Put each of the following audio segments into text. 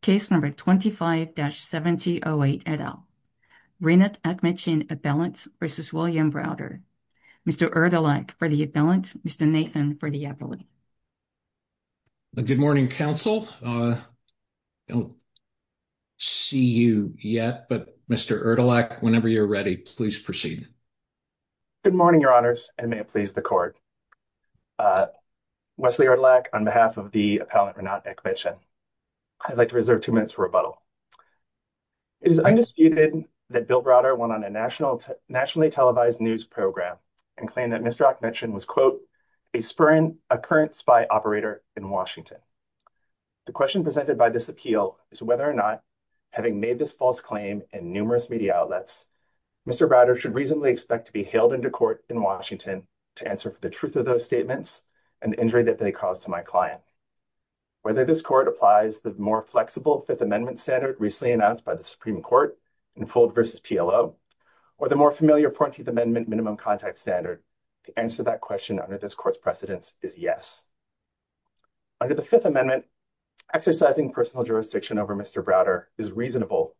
Case No. 25-7808 et al. Renat Akhmetshin appellant v. William Browder. Mr. Erdelak for the appellant, Mr. Nathan for the appellate. Good morning, counsel. I don't see you yet, but Mr. Erdelak, whenever you're ready, please proceed. Good morning, your honors, and may it please the court. Wesley Erdelak, on behalf of the Appellant Renat Akhmetshin. I'd like to reserve two minutes for rebuttal. It is undisputed that Bill Browder went on a nationally televised news program and claimed that Mr. Akhmetshin was, quote, a current spy operator in Washington. The question presented by this appeal is whether or not, having made this false claim in numerous media outlets, Mr. Browder should reasonably expect to be hailed into court in Washington to answer for the truth of those statements and the injury that they caused to my client. Whether this court applies the more flexible Fifth Amendment standard recently announced by the Supreme Court in Fuld v. PLO, or the more familiar Parenthood Amendment minimum contact standard, to answer that question under this court's precedence is yes. Under the Fifth Amendment, exercising personal jurisdiction over Mr. Browder is reasonable,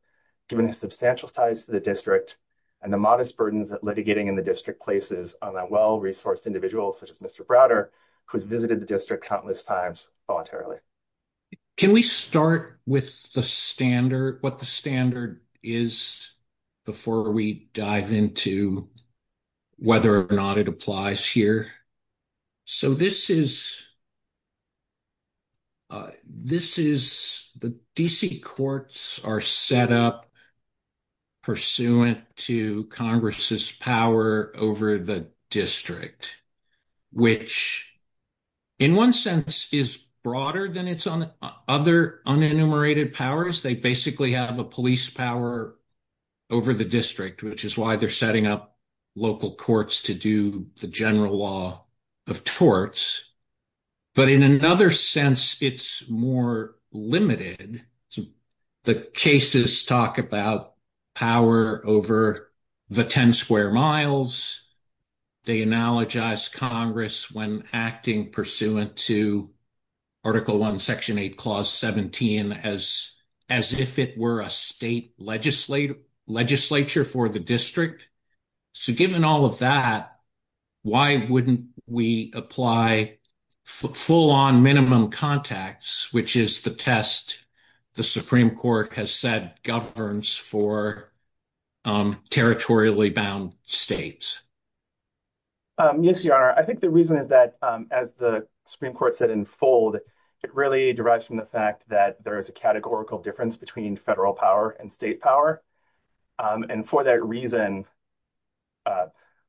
given the substantial size of the district and the modest burdens that litigating in the district places on a well-resourced individual, such as Mr. Browder, who has visited the district countless times voluntarily. Can we start with the standard, what the standard is, before we dive into whether or not it applies here? So this is, the D.C. courts are set up pursuant to Congress's power over the district, which in one sense is broader than its other unenumerated powers. They basically have a police power over the district, which is why they're setting up local courts to do the general law of torts. But in another sense, it's more limited. The cases talk about power over the 10 square miles. They analogize Congress when acting pursuant to Article 1, Section 8, Clause 17, as if it were a state legislature for the district. So given all of that, why wouldn't we apply full-on minimum contacts, which is the test the Supreme Court has said governs for territorially bound states? Yes, Your Honor, I think the reason is that, as the Supreme Court said in fold, it really derives from the fact that there is a categorical difference between federal power and state power. And for that reason,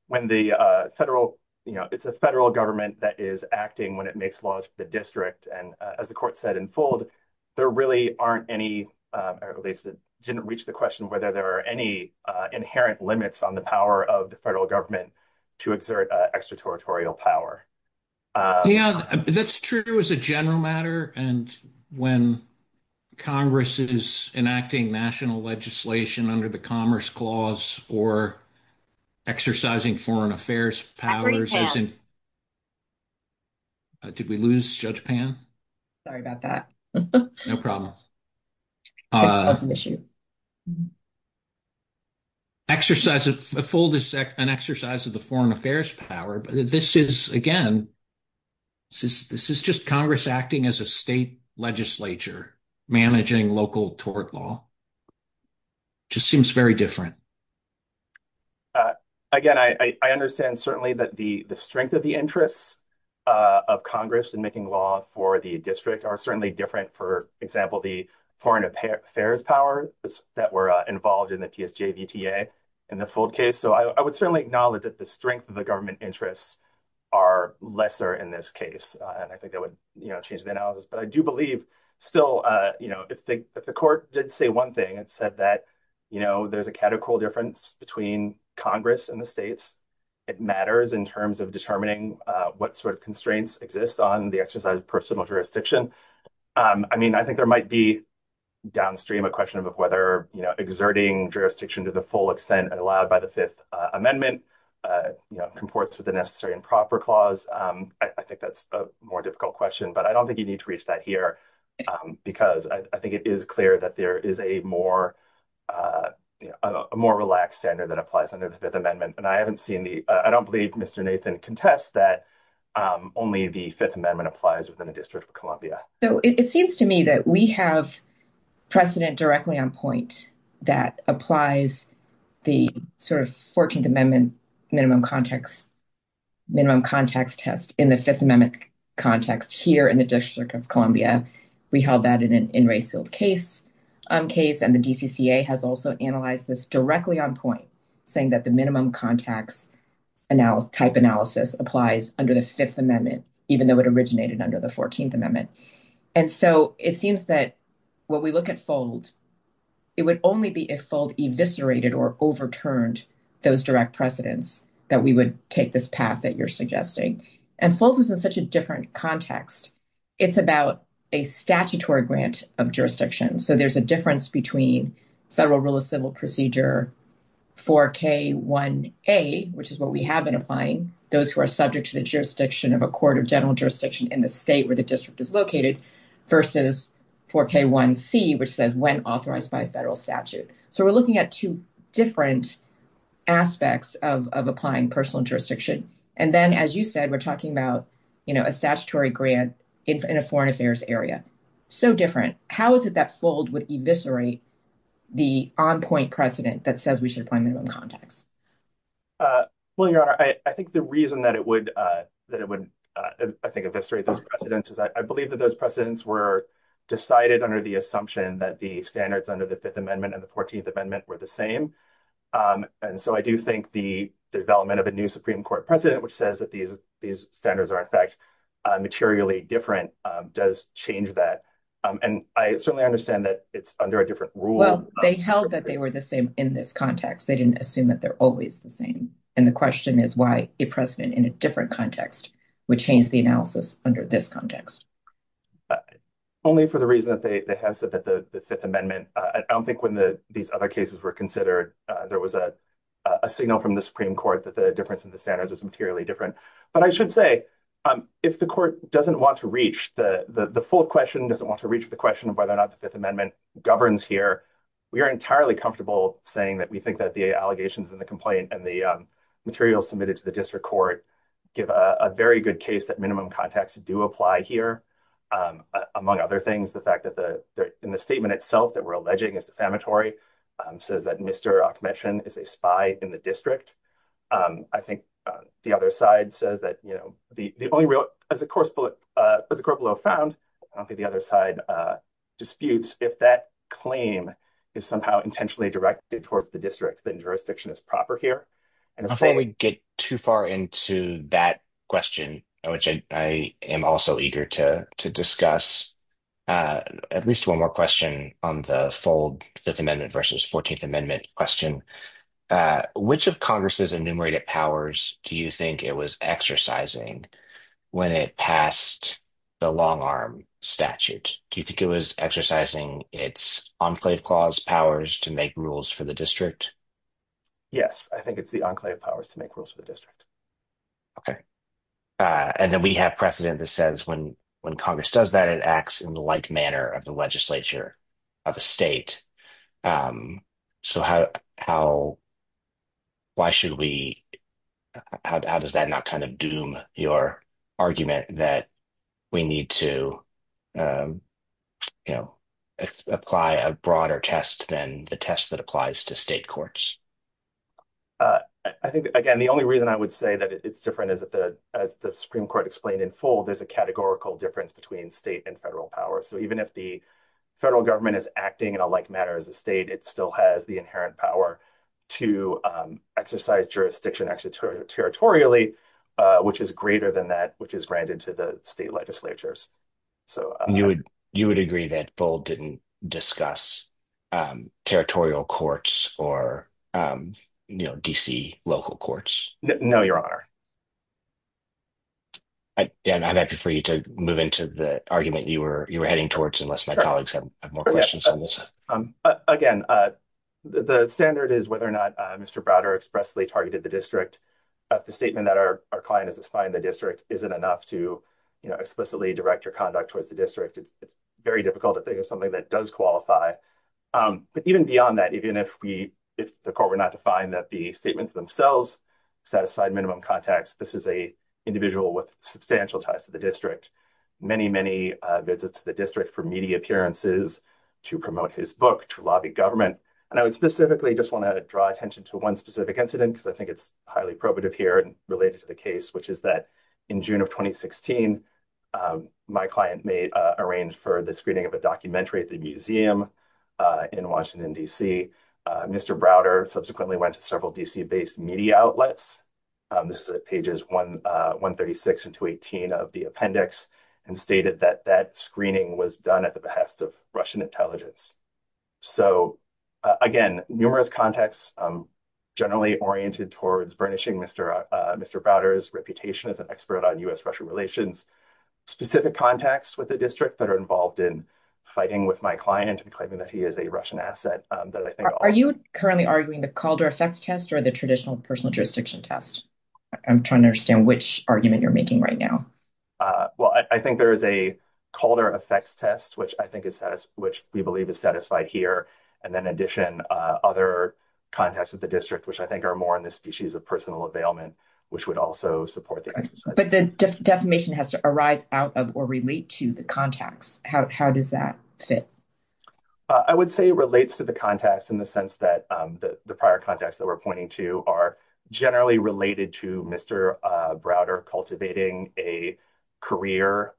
when the federal, you know, it's a federal government that is acting when it makes laws for the district. And as the court said in fold, there really aren't any, or at least it didn't reach the question whether there are any inherent limits on the power of the federal government to exert extraterritorial power. Yeah, that's true as a general matter. And when Congress is enacting national legislation under the Commerce Clause or exercising foreign affairs powers. Did we lose Judge Pan? Sorry about that. No problem. Exercise of the fold is an exercise of the foreign affairs power. But this is, again, this is just Congress acting as a state legislature, managing local tort law. Just seems very different. Again, I understand certainly that the strength of the interests of Congress in making law for the district are certainly different. For example, the foreign affairs powers that were involved in the PSJA VTA in the fold case. So I would certainly acknowledge that the strength of the government interests are lesser in this case. And I think that would change the analysis. But I do believe still, you know, if the court did say one thing, it said that, you know, there's a categorical difference between Congress and the states. It matters in terms of determining what sort of constraints exist on the exercise of personal jurisdiction. I mean, I think there might be downstream a question of whether exerting jurisdiction to the full extent allowed by the Fifth Amendment comports with the necessary and proper clause. I think that's a more difficult question, but I don't think you need to reach that here because I think it is clear that there is a more relaxed standard that applies under the Fifth Amendment. And I haven't seen the, I don't believe Mr. Nathan contests that only the Fifth Amendment applies within the District of Columbia. So it seems to me that we have precedent directly on point that applies the sort of 14th Amendment minimum context test in the Fifth Amendment context here in the District of Columbia. We held that in an in-rate field case, and the DCCA has also analyzed this directly on point, saying that the minimum context type analysis applies under the Fifth Amendment, even though it originated under the 14th Amendment. And so it seems that when we look at FOLD, it would only be if FOLD eviscerated or overturned those direct precedents that we would take this path that you're suggesting. And FOLD is in such a different context. It's about a statutory grant of jurisdiction. So there's a difference between Federal Rule of Civil Procedure 4K1A, which is what we have been applying, those who are subject to the jurisdiction of a court or general jurisdiction in the state where the district is located, versus 4K1C, which says when authorized by federal statute. So we're looking at two different aspects of applying personal jurisdiction. And then, as you said, we're talking about, you know, a statutory grant in a foreign affairs area. So different. How is it that FOLD would eviscerate the on point precedent that says we should apply minimum context? Well, I think the reason that it would, that it would, I think, eviscerate those precedents is I believe that those precedents were decided under the assumption that the standards under the Fifth Amendment and the 14th Amendment were the same. And so I do think the development of a new Supreme Court precedent, which says that these standards are in fact materially different, does change that. And I certainly understand that it's under a different rule. Well, they held that they were the same in this context. They didn't assume that they're always the same. And the question is why a precedent in a different context would change the analysis under this context. Only for the reason that they have said that the Fifth Amendment, I don't think when these other cases were considered, there was a signal from the Supreme Court that the difference in the standards was materially different. But I should say, if the court doesn't want to reach the FOLD question, doesn't want to reach the question of whether or not the Fifth Amendment governs here, we are entirely comfortable saying that we think that the allegations in the complaint and the materials submitted to the district court give a very good case that minimum context do apply here. Among other things, the fact that in the statement itself that we're alleging is defamatory, so that Mr. Akhmetyan is a spy in the district. I think the other side says that, you know, the only real, as the court below found, I don't think the other side disputes if that claim is somehow intentionally directed towards the district, then jurisdiction is proper here. And if I get too far into that question, which I am also eager to discuss, at least one more question on the FOLD Fifth Amendment versus 14th Amendment question. Which of Congress's enumerated powers do you think it was exercising when it passed the long arm statute? Do you think it was exercising its Enclave Clause powers to make rules for the district? Yes, I think it's the Enclave powers to make rules for the district. Okay. And then we have precedent that says when Congress does that, it acts in the like manner of the legislature of a state. So how, why should we, how does that not kind of doom your argument that we need to, you know, apply a broader test than the test that applies to state courts? I think, again, the only reason I would say that it's different is that, as the Supreme Court explained in FOLD, there's a categorical difference between state and federal power. So even if the federal government is acting in a like manner as a state, it still has the inherent power to exercise jurisdiction actually territorially, which is greater than that, which is granted to the state legislatures. You would agree that FOLD didn't discuss territorial courts or, you know, D.C. local courts? No, Your Honor. And I'm happy for you to move into the argument you were heading towards, unless my colleagues have more questions on this. Again, the standard is whether or not Mr. Browder expressly targeted the district. The statement that our client has defined the district isn't enough to explicitly direct your conduct towards the district. It's very difficult to think of something that does qualify. But even beyond that, even if we, if the court were not to find that the statements themselves satisfied minimum context, this is a individual with substantial ties to the district. Many, many visits to the district for media appearances to promote his book, to lobby government. And I would specifically just want to draw attention to one specific incident, because I think it's highly probative here and related to the case, which is that in June of 2016, my client made, arranged for the screening of a documentary at the museum in Washington, D.C. Mr. Browder subsequently went to several D.C.-based media outlets. This is at pages 136 and 218 of the appendix and stated that that screening was done at the behest of Russian intelligence. So, again, numerous contexts generally oriented towards burnishing Mr. Browder's reputation as an expert on U.S.-Russian relations. Specific contacts with the district that are involved in fighting with my client and claiming that he is a Russian asset. Are you currently arguing the Calder effects test or the traditional personal jurisdiction test? I'm trying to understand which argument you're making right now. Well, I think there is a Calder effects test, which I think is, which we believe is satisfied here. And in addition, other contexts of the district, which I think are more in the species of personal availment, which would also support. But the defamation has to arise out of or relate to the context. How does that fit? I would say relates to the context in the sense that the prior context that we're pointing to are generally related to Mr. Browder cultivating a career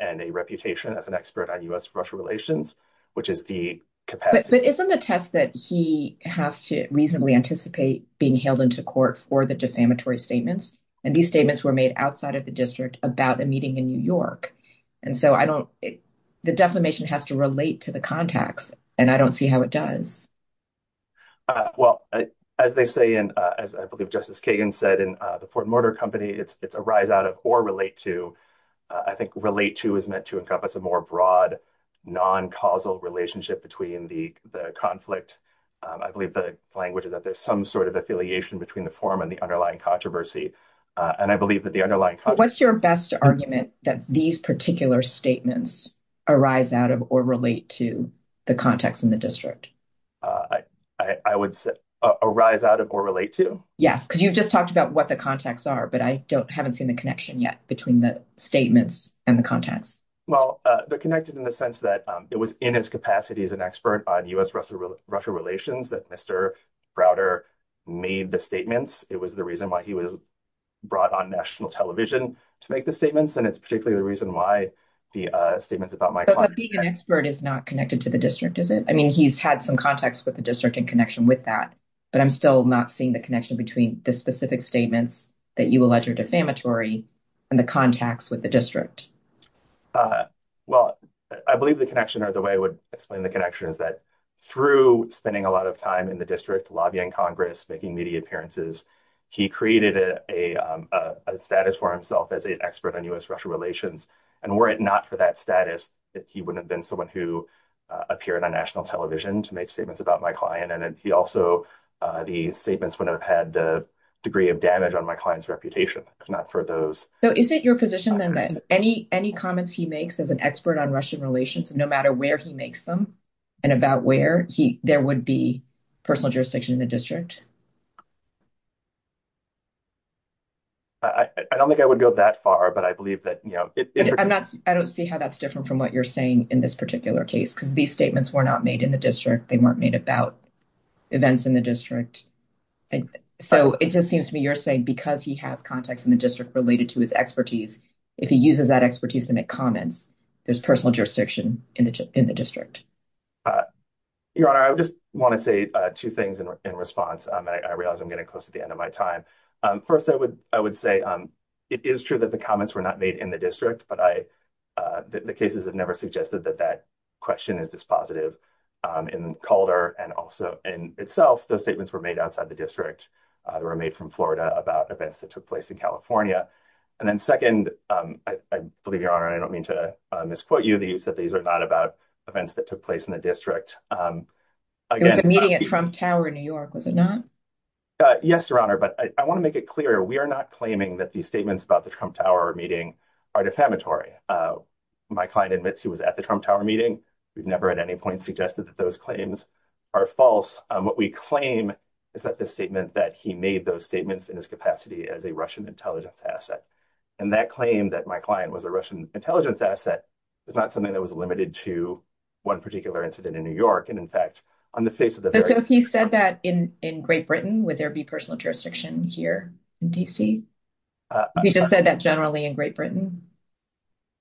and a reputation as an expert on U.S.-Russian relations, which is the capacity. But isn't the test that he has to reasonably anticipate being held into court for the defamatory statements? And these statements were made outside of the district about a meeting in New York. And so I don't, the defamation has to relate to the context. And I don't see how it does. Well, as they say, and I believe Justice Kagan said in the Fort Mortar Company, it's a rise out of or relate to. I think relate to is meant to encompass a more broad, non-causal relationship between the conflict. I believe the language is that there's some sort of affiliation between the form and the underlying controversy. And I believe that the underlying- What's your best argument that these particular statements arise out of or relate to the context in the district? I would say arise out of or relate to? Yes, because you've just talked about what the contexts are, but I haven't seen the connection yet between the statements and the context. Well, they're connected in the sense that it was in his capacity as an expert on U.S.-Russia relations that Mr. Browder made the statements. It was the reason why he was brought on national television to make the statements. And it's particularly the reason why the statements about- But being an expert is not connected to the district, is it? I mean, he's had some contacts with the district in connection with that, but I'm still not seeing the connection between the specific statements that you allege are defamatory and the contacts with the district. Well, I believe the connection or the way I would explain the connection is that through spending a lot of time in the district lobbying Congress, making media appearances, he created a status for himself as an expert on U.S.-Russia relations. And were it not for that status, he wouldn't have been someone who appeared on national television to make statements about my client. And he also- the statements would have had a degree of damage on my client's reputation, not for those- So is it your position then that any comments he makes as an expert on Russian relations, no matter where he makes them and about where, there would be personal jurisdiction in the district? I don't think I would go that far, but I believe that- I don't see how that's different from what you're saying in this particular case, because these statements were not made in the district. They weren't made about events in the district. So it just seems to me you're saying because he has contacts in the district related to his expertise, if he uses that expertise to make comments, there's personal jurisdiction in the district. Your Honor, I just want to say two things in response. I realize I'm getting close to the end of my time. First, I would say it is true that the comments were not made in the district, but the cases have never suggested that that question is dispositive. In Calder and also in itself, those statements were made outside the district. They were made from Florida about events that took place in California. And then second, I believe, Your Honor, and I don't mean to misquote you, that these are not about events that took place in the district. There was a meeting at Trump Tower in New York, was it not? Yes, Your Honor, but I want to make it clear, we are not claiming that these statements about the Trump Tower meeting are defamatory. My client admits he was at the Trump Tower meeting. We've never at any point suggested that those claims are false. What we claim is that the statement that he made those statements in his capacity as a Russian intelligence asset. And that claim that my client was a Russian intelligence asset is not something that was limited to one particular incident in New York. And in fact, on the face of the very… So if he said that in Great Britain, would there be personal jurisdiction here in D.C.? If he just said that generally in Great Britain?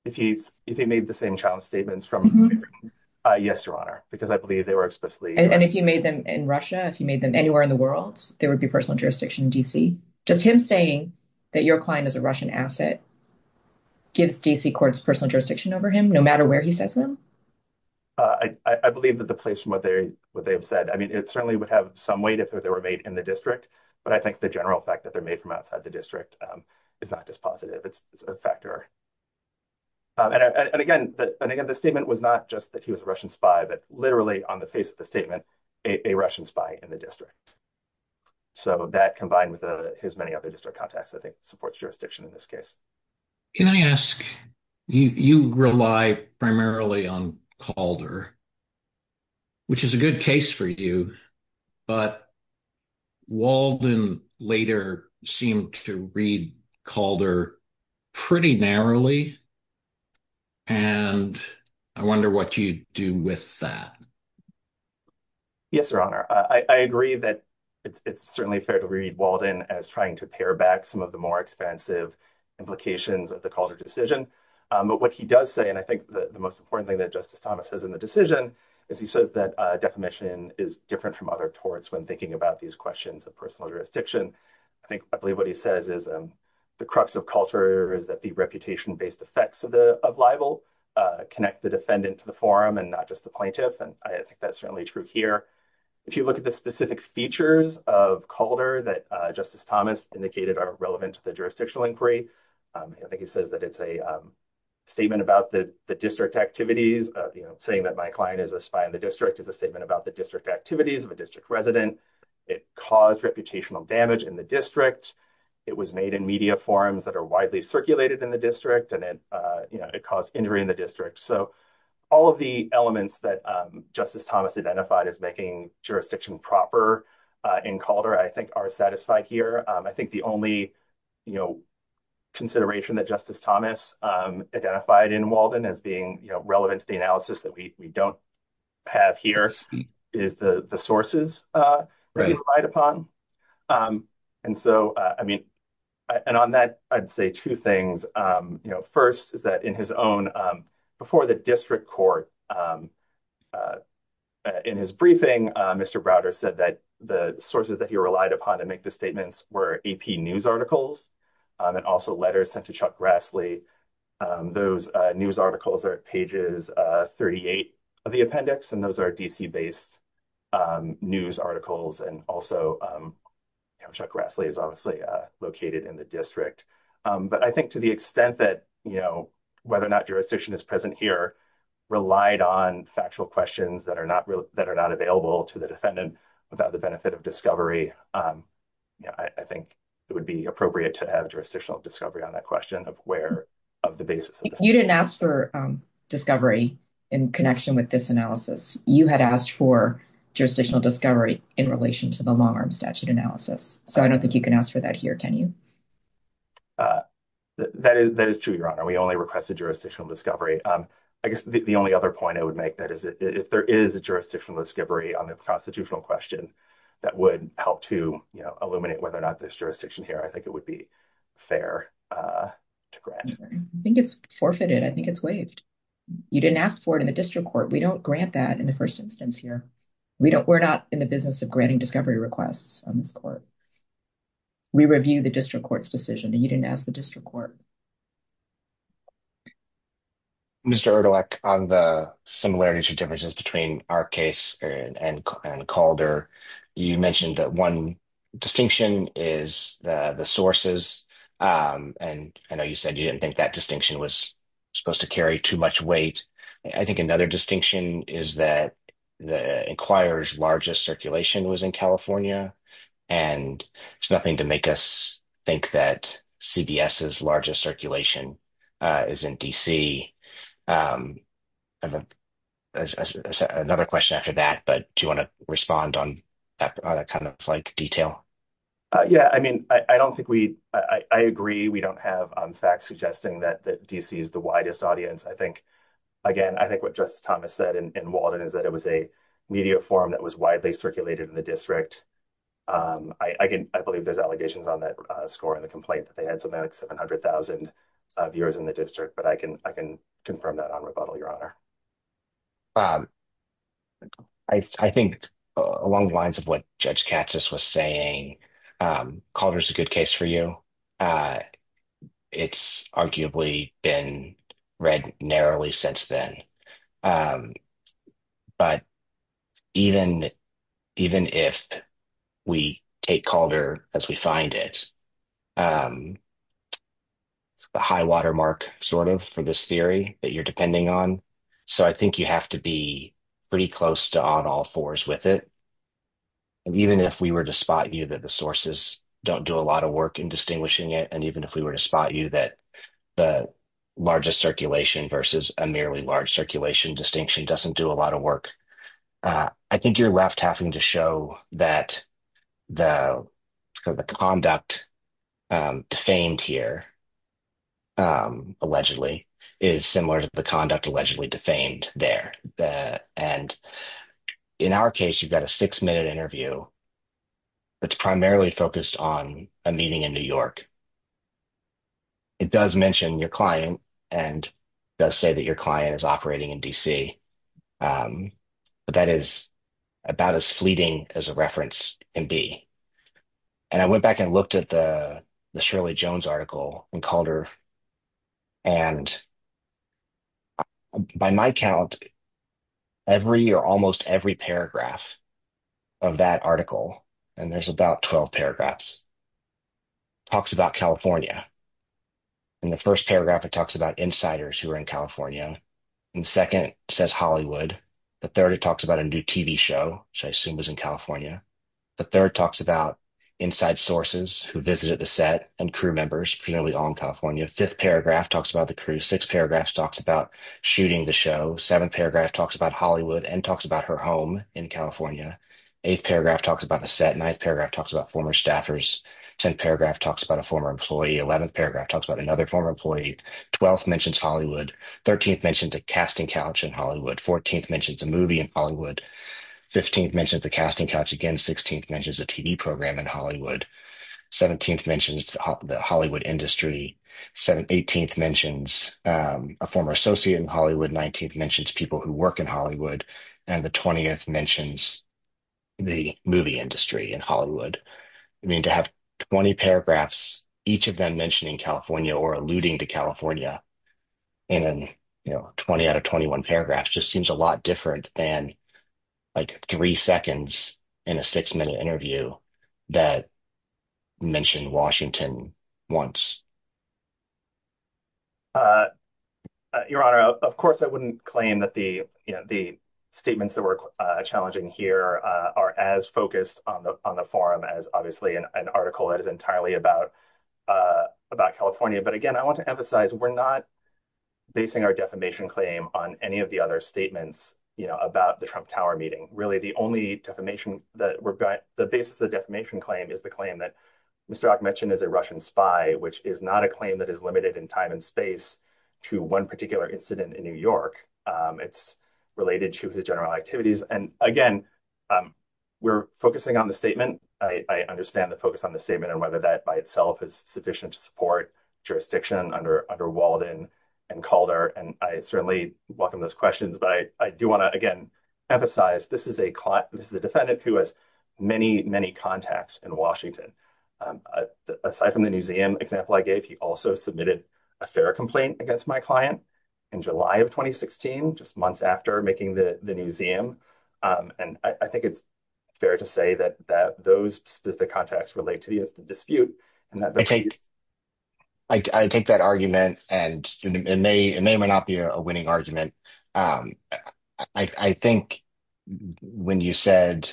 If he made the same child statements from Great Britain? Yes, Your Honor, because I believe they were explicitly… And if he made them in Russia, if he made them anywhere in the world, there would be personal jurisdiction in D.C.? Does him saying that your client is a Russian asset give D.C. courts personal jurisdiction over him, no matter where he says them? I believe that the place where they have said, I mean, it certainly would have some weight if they were made in the district. But I think the general fact that they're made from outside the district is not just positive, it's a factor. And again, the statement was not just that he was a Russian spy, but literally on the face of the statement, a Russian spy in the district. So that combined with his many other district contacts, I think, supports jurisdiction in this case. Can I ask, you rely primarily on Calder, which is a good case for you, but Walden later seemed to read Calder pretty narrowly. And I wonder what you do with that. Yes, Your Honor, I agree that it's certainly fair to read Walden as trying to pare back some of the more expansive implications of the Calder decision. But what he does say, and I think the most important thing that Justice Thomas says in the decision, is he says that defamation is different from other courts when thinking about these questions of personal jurisdiction. I believe what he says is the crux of culture is that the reputation-based effects of libel connect the defendant to the forum and not just the plaintiff. And I think that's certainly true here. If you look at the specific features of Calder that Justice Thomas indicated are relevant to the jurisdictional inquiry, I think he says that it's a statement about the district activities. Saying that my client is a spy in the district is a statement about the district activities of a district resident. It caused reputational damage in the district. It was made in media forums that are widely circulated in the district, and it caused injury in the district. So all of the elements that Justice Thomas identified as making jurisdiction proper in Calder, I think, are satisfied here. I think the only consideration that Justice Thomas identified in Walden as being relevant to the analysis that we don't have here is the sources that he relied upon. And so, I mean, and on that, I'd say two things. First is that in his own, before the district court, in his briefing, Mr. Browder said that the sources that he relied upon to make the statements were AP news articles and also letters sent to Chuck Grassley. Those news articles are pages 38 of the appendix, and those are D.C.-based news articles, and also Chuck Grassley is obviously located in the district. But I think to the extent that, you know, whether or not jurisdiction is present here, relied on factual questions that are not available to the defendant about the benefit of discovery, I think it would be appropriate to have jurisdictional discovery on that question of where, of the basis. You didn't ask for discovery in connection with this analysis. You had asked for jurisdictional discovery in relation to the long-arm statute analysis. So I don't think you can ask for that here, can you? That is true, Your Honor. We only requested jurisdictional discovery. I guess the only other point I would make is that if there is a jurisdictional discovery on the constitutional question that would help to, you know, eliminate whether or not there's jurisdiction here, I think it would be fair to grant. I think it's forfeited. I think it's waived. You didn't ask for it in the district court. We don't grant that in the first instance here. We're not in the business of granting discovery requests. We review the district court's decision. You didn't ask the district court. Mr. Erdolak, on the similarities and differences between our case and Calder, you mentioned that one distinction is the sources. And I know you said you didn't think that distinction was supposed to carry too much weight. I think another distinction is that the Inquirer's largest circulation was in California. And it's nothing to make us think that CBS's largest circulation is in D.C. I have another question after that, but do you want to respond on that kind of detail? Yeah, I mean, I don't think we – I agree we don't have facts suggesting that D.C. is the widest audience. I think, again, I think what Justice Thomas said in Walden is that it was a media forum that was widely circulated in the district. I believe there's allegations on that score in the complaint that they had something like 700,000 viewers in the district, but I can confirm that on rebuttal, Your Honor. I think along the lines of what Judge Katsas was saying, Calder's a good case for you. It's arguably been read narrowly since then. But even if we take Calder as we find it, it's a high watermark sort of for this theory that you're depending on. So I think you have to be pretty close to on all fours with it. Even if we were to spot you that the sources don't do a lot of work in distinguishing it, and even if we were to spot you that the largest circulation versus a merely large circulation distinction doesn't do a lot of work, I think you're left having to show that the conduct defamed here, allegedly, is similar to the conduct allegedly defamed there. In our case, you've got a six-minute interview that's primarily focused on a meeting in New York. It does mention your client and does say that your client is operating in D.C., but that is about as fleeting as a reference can be. And I went back and looked at the Shirley Jones article in Calder, and by my count, every or almost every paragraph of that article – and there's about 12 paragraphs – talks about California. In the first paragraph, it talks about insiders who are in California. In the second, it says Hollywood. The third, it talks about a new TV show, which I assume is in California. The third talks about inside sources who visited the set and crew members, presumably all in California. The fifth paragraph talks about the crew. The sixth paragraph talks about shooting the show. The seventh paragraph talks about Hollywood and talks about her home in California. The eighth paragraph talks about the set. The ninth paragraph talks about former staffers. The 10th paragraph talks about a former employee. The 11th paragraph talks about another former employee. The twelfth mentions Hollywood. The 13th mentions the casting couch in Hollywood. The 14th mentions the movie in Hollywood. The 15th mentions the casting couch. Again, the 16th mentions the TV program in Hollywood. The 17th mentions the Hollywood industry. The 18th mentions a former associate in Hollywood. The 19th mentions people who work in Hollywood. And the 20th mentions the movie industry in Hollywood. I mean, to have 20 paragraphs, each of them mentioning California or alluding to California, and then, you know, 20 out of 21 paragraphs just seems a lot different than, like, three seconds in a six minute interview that mentioned Washington once. Your Honor, of course, I wouldn't claim that the statements that were challenging here are as focused on the forum as, obviously, an article that is entirely about California. But, again, I want to emphasize, we're not basing our defamation claim on any of the other statements about the Trump Tower meeting. Really, the basis of the defamation claim is the claim that Mr. Akhmetian is a Russian spy, which is not a claim that is limited in time and space to one particular incident in New York. It's related to the general activities. And, again, we're focusing on the statement. I understand the focus on the statement and whether that by itself is sufficient to support jurisdiction under Walden and Calder. And I certainly welcome those questions, but I do want to, again, emphasize this is a defendant who has many, many contacts in Washington. Aside from the museum example I gave, he also submitted a fair complaint against my client in July of 2016, just months after making the museum. And I think it's fair to say that those specific contacts relate to the dispute. I take that argument, and it may or may not be a winning argument. I think when you said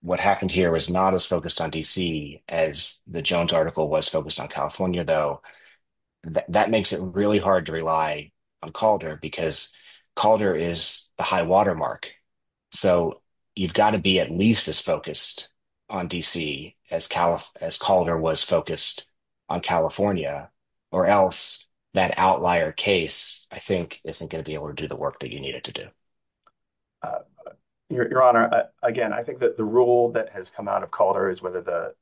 what happened here was not as focused on D.C. as the Jones article was focused on California, though, that makes it really hard to rely on Calder because Calder is a high watermark. So you've got to be at least as focused on D.C. as Calder was focused on California, or else that outlier case, I think, isn't going to be able to do the work that you need it to do. Your Honor, again, I think that the rule that has come out of Calder is whether the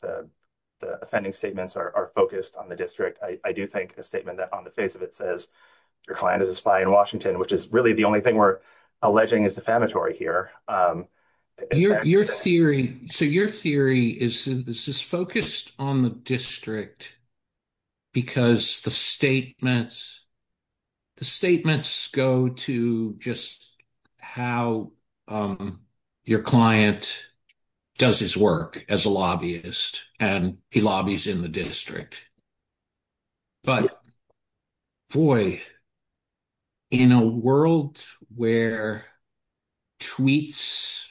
offending statements are focused on the district. I do think a statement on the face of it says your client is a spy in Washington, which is really the only thing we're alleging is defamatory here. Your theory is this is focused on the district because the statements go to just how your client does his work as a lobbyist, and he lobbies in the district. But, boy, in a world where tweets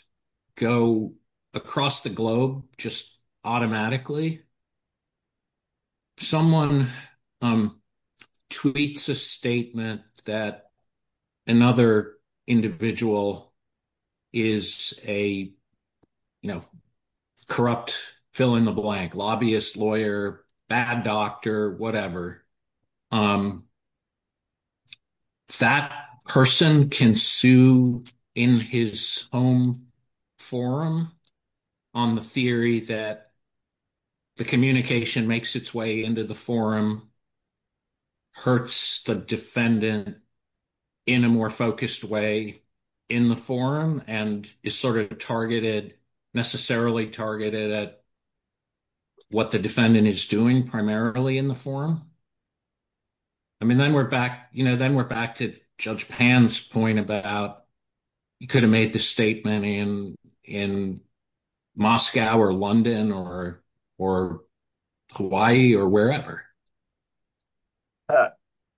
go across the globe just automatically, someone tweets a statement that another individual is a, you know, corrupt fill-in-the-blank lobbyist, lawyer, bad guy. Doctor, whatever, that person can sue in his own forum on the theory that the communication makes its way into the forum, hurts the defendant in a more focused way in the forum, and is sort of targeted, necessarily targeted at what the defendant is doing primarily in the forum. I mean, then we're back, you know, then we're back to Judge Pan's point about you could have made the statement in Moscow or London or Hawaii or wherever.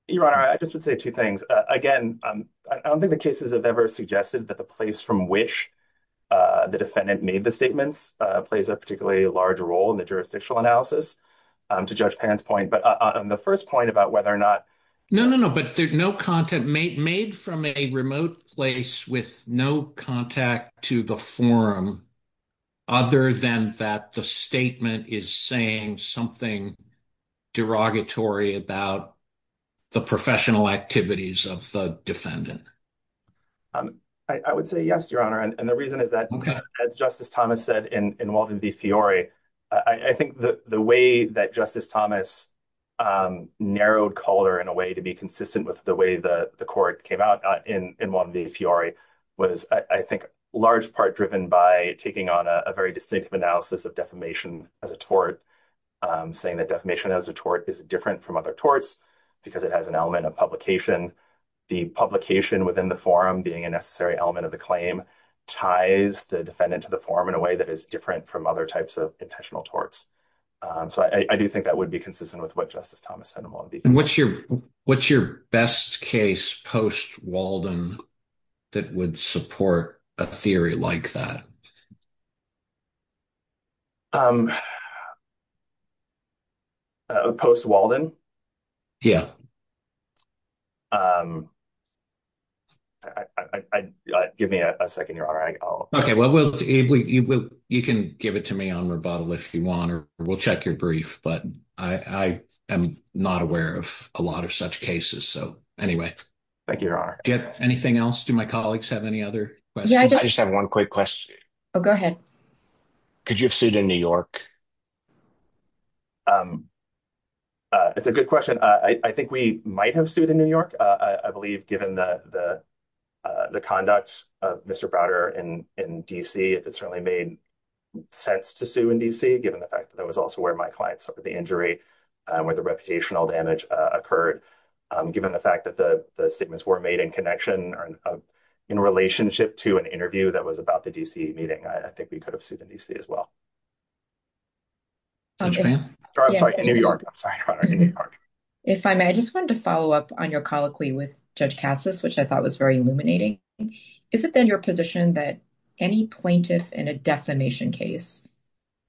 Your Honor, I just would say two things. Again, I don't think the cases have ever suggested that the place from which the defendant made the statements plays a particularly large role in the jurisdictional analysis, to Judge Pan's point. No, no, no, but no content made from a remote place with no contact to the forum, other than that the statement is saying something derogatory about the professional activities of the defendant. I would say yes, Your Honor, and the reason is that, as Justice Thomas said in Walden v. Fiore, I think the way that Justice Thomas narrowed color in a way to be consistent with the way the court came out in Walden v. Fiore was, I think, large part driven by taking on a very distinctive analysis of defamation as a tort, saying that defamation as a tort is different from other torts because it has an element of publication. The publication within the forum being a necessary element of the claim ties the defendant to the forum in a way that is different from other types of intentional torts. So I do think that would be consistent with what Justice Thomas said in Walden v. Fiore. And what's your best case post-Walden that would support a theory like that? Post-Walden? Give me a second, Your Honor. Okay, well, you can give it to me on rebuttal if you want, or we'll check your brief, but I am not aware of a lot of such cases. So, anyway. Thank you, Your Honor. Anything else? Do my colleagues have any other questions? I just have one quick question. Oh, go ahead. Could you have sued in New York? That's a good question. I think we might have sued in New York, I believe, given the conduct of Mr. Browder in D.C. It certainly made sense to sue in D.C., given the fact that that was also where my client suffered the injury, where the reputational damage occurred. Given the fact that the statements were made in connection or in relationship to an interview that was about the D.C. meeting, I think we could have sued in D.C. as well. If I may, I just wanted to follow up on your colloquy with Judge Passis, which I thought was very illuminating. Is it then your position that any plaintiff in a defamation case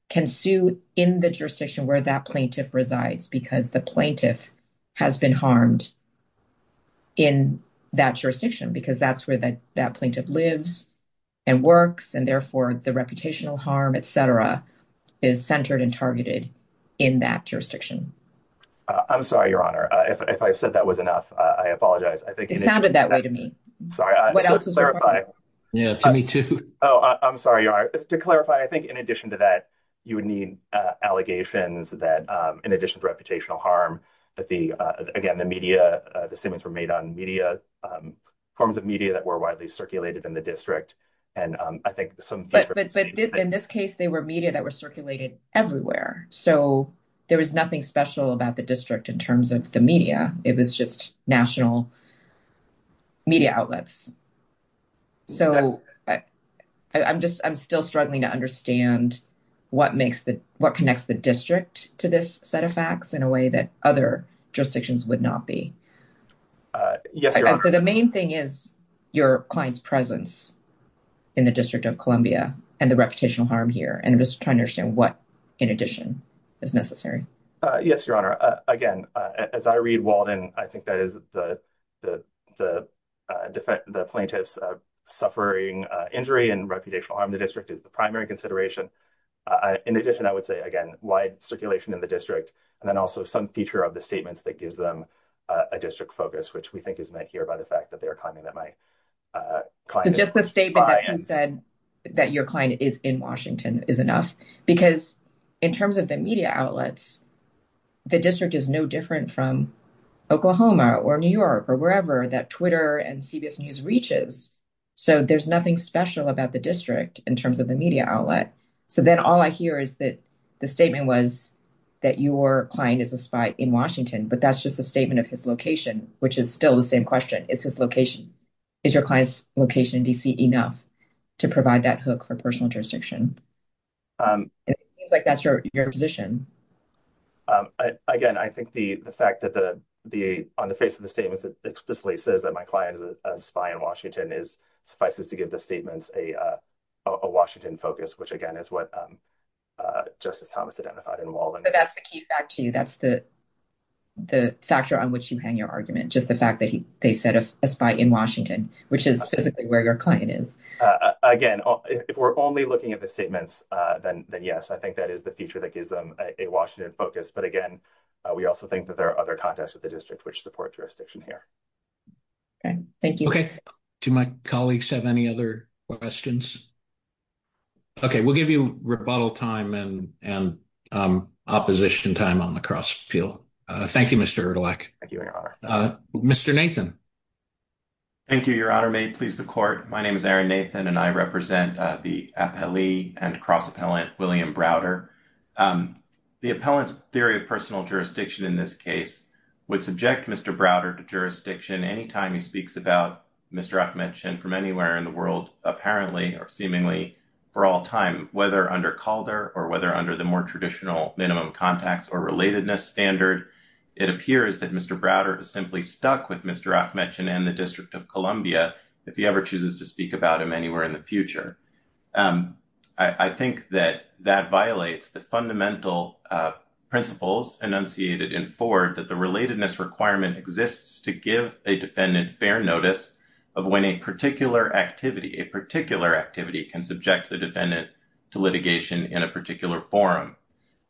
can sue in the jurisdiction where that plaintiff resides, because the plaintiff has been harmed in that jurisdiction, because that's where that plaintiff lives and works, and therefore the reputational harm, et cetera, is centered and targeted in that jurisdiction? I'm sorry, Your Honor. If I said that was enough, I apologize. It sounded that way to me. Sorry, I just wanted to clarify. Yeah, me too. Oh, I'm sorry, Your Honor. To clarify, I think in addition to that, you would need allegations that, in addition to reputational harm, that the, again, the media, the statements were made on media, forms of media that were widely circulated in the district. But in this case, they were media that were circulating everywhere, so there was nothing special about the district in terms of the media. It was just national media outlets. So I'm still struggling to understand what connects the district to this set of facts in a way that other jurisdictions would not be. Yes, Your Honor. So the main thing is your client's presence in the District of Columbia and the reputational harm here, and just trying to understand what, in addition, is necessary. Yes, Your Honor. Again, as I read Walden, I think that is the plaintiff's suffering injury and reputational harm in the district is the primary consideration. In addition, I would say, again, wide circulation in the district, and then also some feature of the statements that gives them a district focus, which we think is made here by the fact that they are claiming that my client is in Washington. So just the statement that you said that your client is in Washington is enough, because in terms of the media outlets, the district is no different from Oklahoma or New York or wherever that Twitter and CBS News reaches. So there's nothing special about the district in terms of the media outlet. So then all I hear is that the statement was that your client is a spy in Washington, but that's just a statement of his location, which is still the same question. It's his location. Is your client's location in D.C. enough to provide that hook for personal jurisdiction? It seems like that's your position. Again, I think the fact that on the face of the statement that explicitly says that my client is a spy in Washington is suffices to give the statements a Washington focus, which again is what Justice Thomas identified in Walden. But that's the key fact, too. That's the factor on which you hang your argument, just the fact that they said a spy in Washington, which is specifically where your client is. Again, if we're only looking at the statements, then yes, I think that is the feature that gives them a Washington focus. But again, we also think that there are other contexts of the district which support jurisdiction here. Thank you. Do my colleagues have any other questions? Okay, we'll give you rebuttal time and opposition time on the cross field. Thank you, Mr. Erdelak. Thank you, Your Honor. Mr. Nathan. Thank you, Your Honor. May it please the Court. My name is Aaron Nathan, and I represent the appellee and cross-appellant William Browder. The appellant's theory of personal jurisdiction in this case would subject Mr. Browder to jurisdiction any time he speaks about Mr. Appalachian from anywhere in the world, apparently or seemingly for all time, whether under Calder or whether under the more traditional minimum contacts or relatedness standard. It appears that Mr. Browder is simply stuck with Mr. Appalachian and the District of Columbia if he ever chooses to speak about him anywhere in the future. I think that that violates the fundamental principles enunciated in Ford that the relatedness requirement exists to give a defendant fair notice of when a particular activity, a particular activity, can subject the defendant to litigation in a particular forum.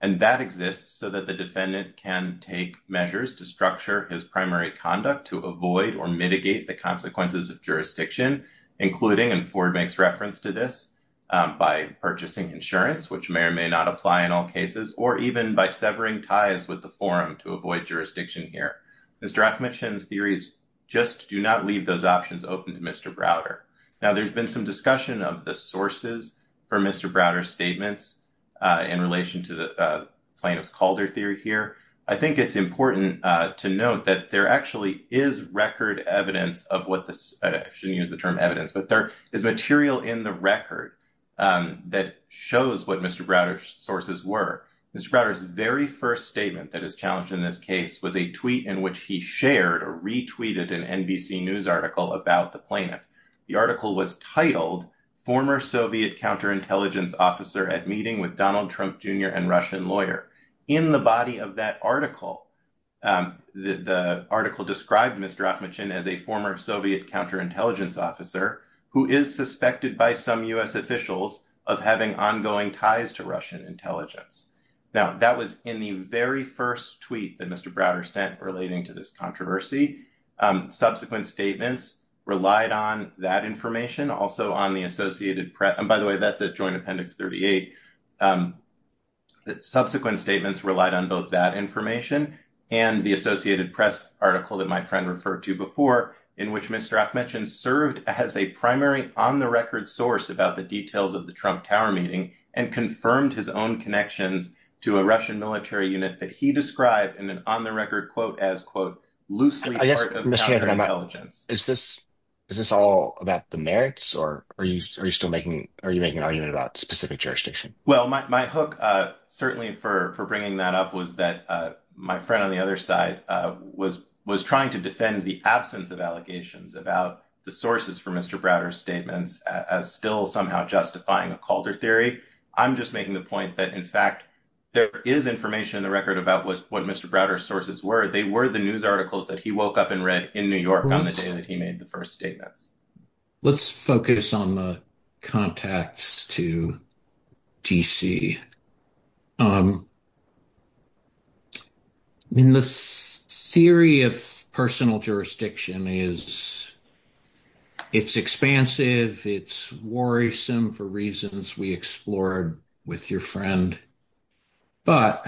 And that exists so that the defendant can take measures to structure his primary conduct to avoid or mitigate the consequences of jurisdiction, including, and Ford makes reference to this, by purchasing insurance, which may or may not apply in all cases, or even by severing ties with the forum to avoid jurisdiction here. Mr. Appalachian's theories just do not read those options open to Mr. Browder. Now, there's been some discussion of the sources for Mr. Browder's statements in relation to the plaintiff's Calder theory here. I think it's important to note that there actually is record evidence of what the, I shouldn't use the term evidence, but there is material in the record that shows what Mr. Browder's sources were. Mr. Browder's very first statement that is challenged in this case was a tweet in which he shared or retweeted an NBC News article about the plaintiff. The article was titled, Former Soviet Counterintelligence Officer at Meeting with Donald Trump Jr. and Russian Lawyer. In the body of that article, the article described Mr. Appalachian as a former Soviet counterintelligence officer who is suspected by some U.S. officials of having ongoing ties to Russian intelligence. Now, that was in the very first tweet that Mr. Browder sent relating to this controversy. Subsequent statements relied on that information. By the way, that's the Joint Appendix 38. Subsequent statements relied on both that information and the Associated Press article that my friend referred to before, in which Mr. Appalachian served as a primary on-the-record source about the details of the Trump Tower meeting and confirmed his own connection to a Russian military unit that he described in an on-the-record quote as, quote, loosely part of counterintelligence. Is this all about the merits, or are you still making – are you making an argument about specific jurisdiction? Well, my hook, certainly, for bringing that up was that my friend on the other side was trying to defend the absence of allegations about the sources for Mr. Browder's statements as still somehow justifying a Calder theory. I'm just making the point that, in fact, there is information in the record about what Mr. Browder's sources were. They were the news articles that he woke up and read in New York on the day that he made the first statement. Let's focus on the contacts to D.C. I mean, the theory of personal jurisdiction is – it's expansive, it's worrisome for reasons we explored with your friend. But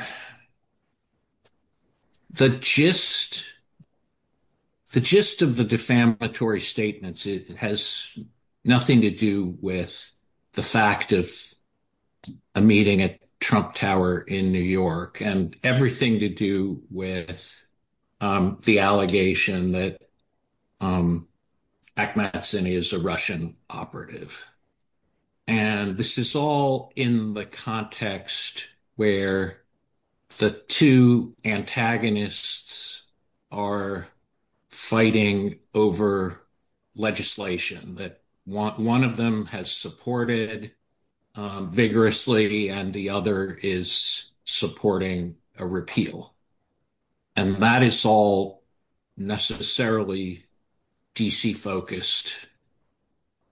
the gist of the defamatory statements has nothing to do with the fact of a meeting at Trump Tower in New York and everything to do with the allegation that Akhmat Zinni is a Russian operative. And this is all in the context where the two antagonists are fighting over legislation that one of them has supported vigorously and the other is supporting a repeal. And that is all necessarily D.C.-focused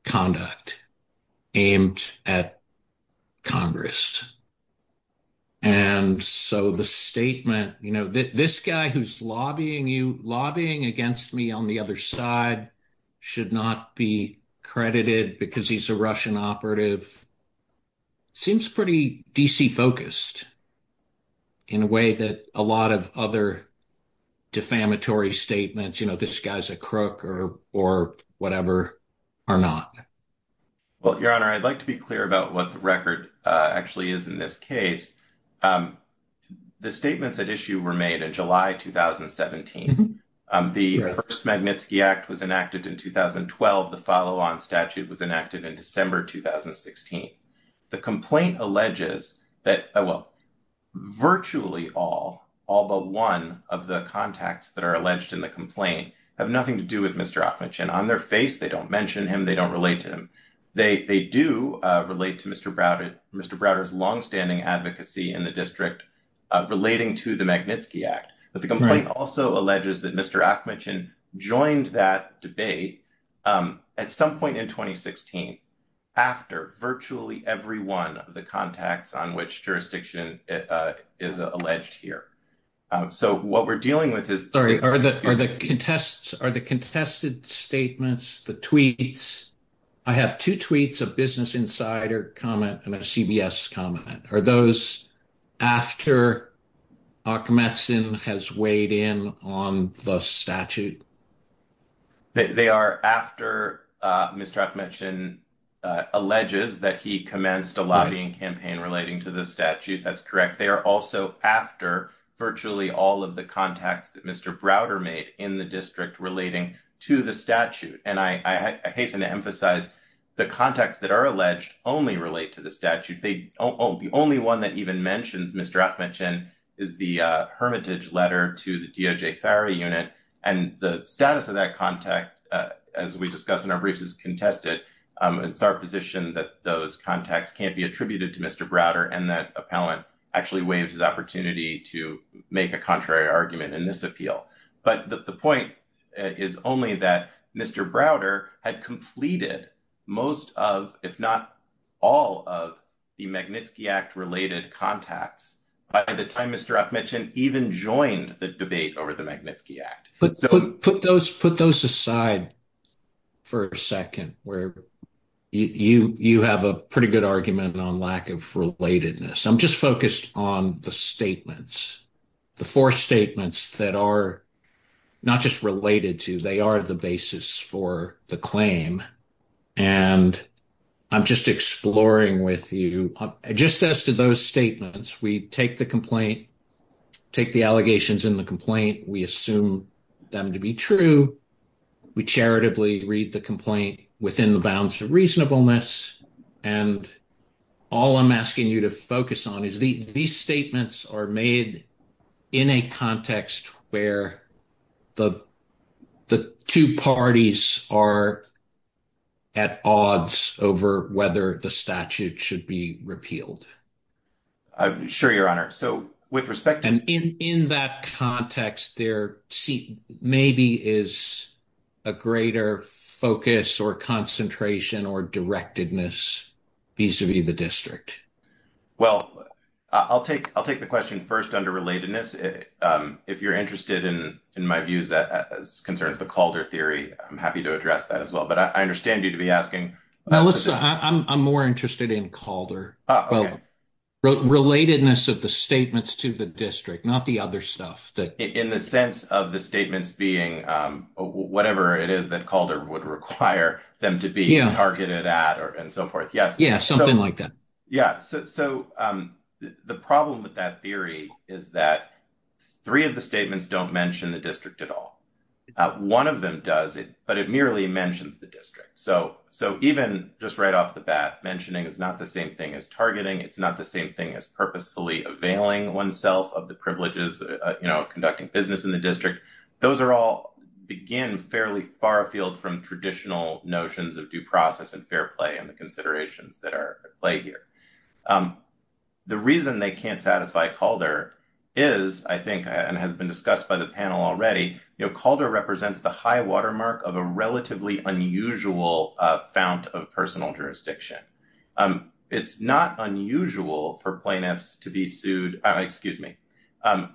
conduct aimed at Congress. And so the statement, you know, this guy who's lobbying against me on the other side should not be credited because he's a Russian operative, seems pretty D.C.-focused in a way that a lot of other defamatory statements, you know, this guy's a crook or whatever, are not. Well, Your Honor, I'd like to be clear about what the record actually is in this case. The statements at issue were made in July 2017. The first Magnitsky Act was enacted in 2012. The follow-on statute was enacted in December 2016. The complaint alleges that, well, virtually all, all but one of the contacts that are alleged in the complaint have nothing to do with Mr. Akhmat Zinni. On their face, they don't mention him. They don't relate to him. They do relate to Mr. Browder's longstanding advocacy in the district relating to the Magnitsky Act. But the complaint also alleges that Mr. Akhmat Zinni joined that debate at some point in 2016 after virtually every one of the contacts on which jurisdiction is alleged here. So what we're dealing with is... Sorry, are the contests, are the contested statements, the tweets? I have two tweets, a Business Insider comment and a CBS comment. Are those after Mr. Akhmat Zinni has weighed in on the statute? They are after Mr. Akhmat Zinni alleges that he commenced a lobbying campaign relating to the statute. That's correct. They are also after virtually all of the contacts that Mr. Browder made in the district relating to the statute. And I hasten to emphasize the contacts that are alleged only relate to the statute. The only one that even mentions Mr. Akhmat Zinni is the hermitage letter to the DOJ fire unit. And the status of that contact, as we discussed in our briefs, is contested. It's our position that those contacts can't be attributed to Mr. Browder and that appellant actually weighs his opportunity to make a contrary argument in this appeal. But the point is only that Mr. Browder had completed most of, if not all of, the Magnitsky Act-related contacts by the time Mr. Akhmat Zinni even joined the debate over the Magnitsky Act. Put those aside for a second where you have a pretty good argument on lack of relatedness. I'm just focused on the statements, the four statements that are not just related to, they are the basis for the claim. And I'm just exploring with you. Just as to those statements, we take the complaint, take the allegations in the complaint, we assume them to be true. We charitably read the complaint within the bounds of reasonableness. And all I'm asking you to focus on is these statements are made in a context where the two parties are at odds over whether the statute should be repealed. I'm sure, Your Honor. And in that context, there maybe is a greater focus or concentration or directedness vis-a-vis the district. Well, I'll take the question first under relatedness. If you're interested in my views as concerns the Calder theory, I'm happy to address that as well. But I understand you to be asking. I'm more interested in Calder. Relatedness of the statements to the district, not the other stuff. In the sense of the statements being whatever it is that Calder would require them to be targeted at and so forth. Yeah, something like that. Yeah, so the problem with that theory is that three of the statements don't mention the district at all. One of them does, but it merely mentions the district. So even just right off the bat, mentioning is not the same thing as targeting. It's not the same thing as purposefully availing oneself of the privileges of conducting business in the district. Those are all, again, fairly far afield from traditional notions of due process and fair play and the considerations that are at play here. The reason they can't satisfy Calder is, I think, and has been discussed by the panel already, Calder represents the high watermark of a relatively unusual found of personal jurisdiction. It's not unusual for plaintiffs to be sued. Excuse me. A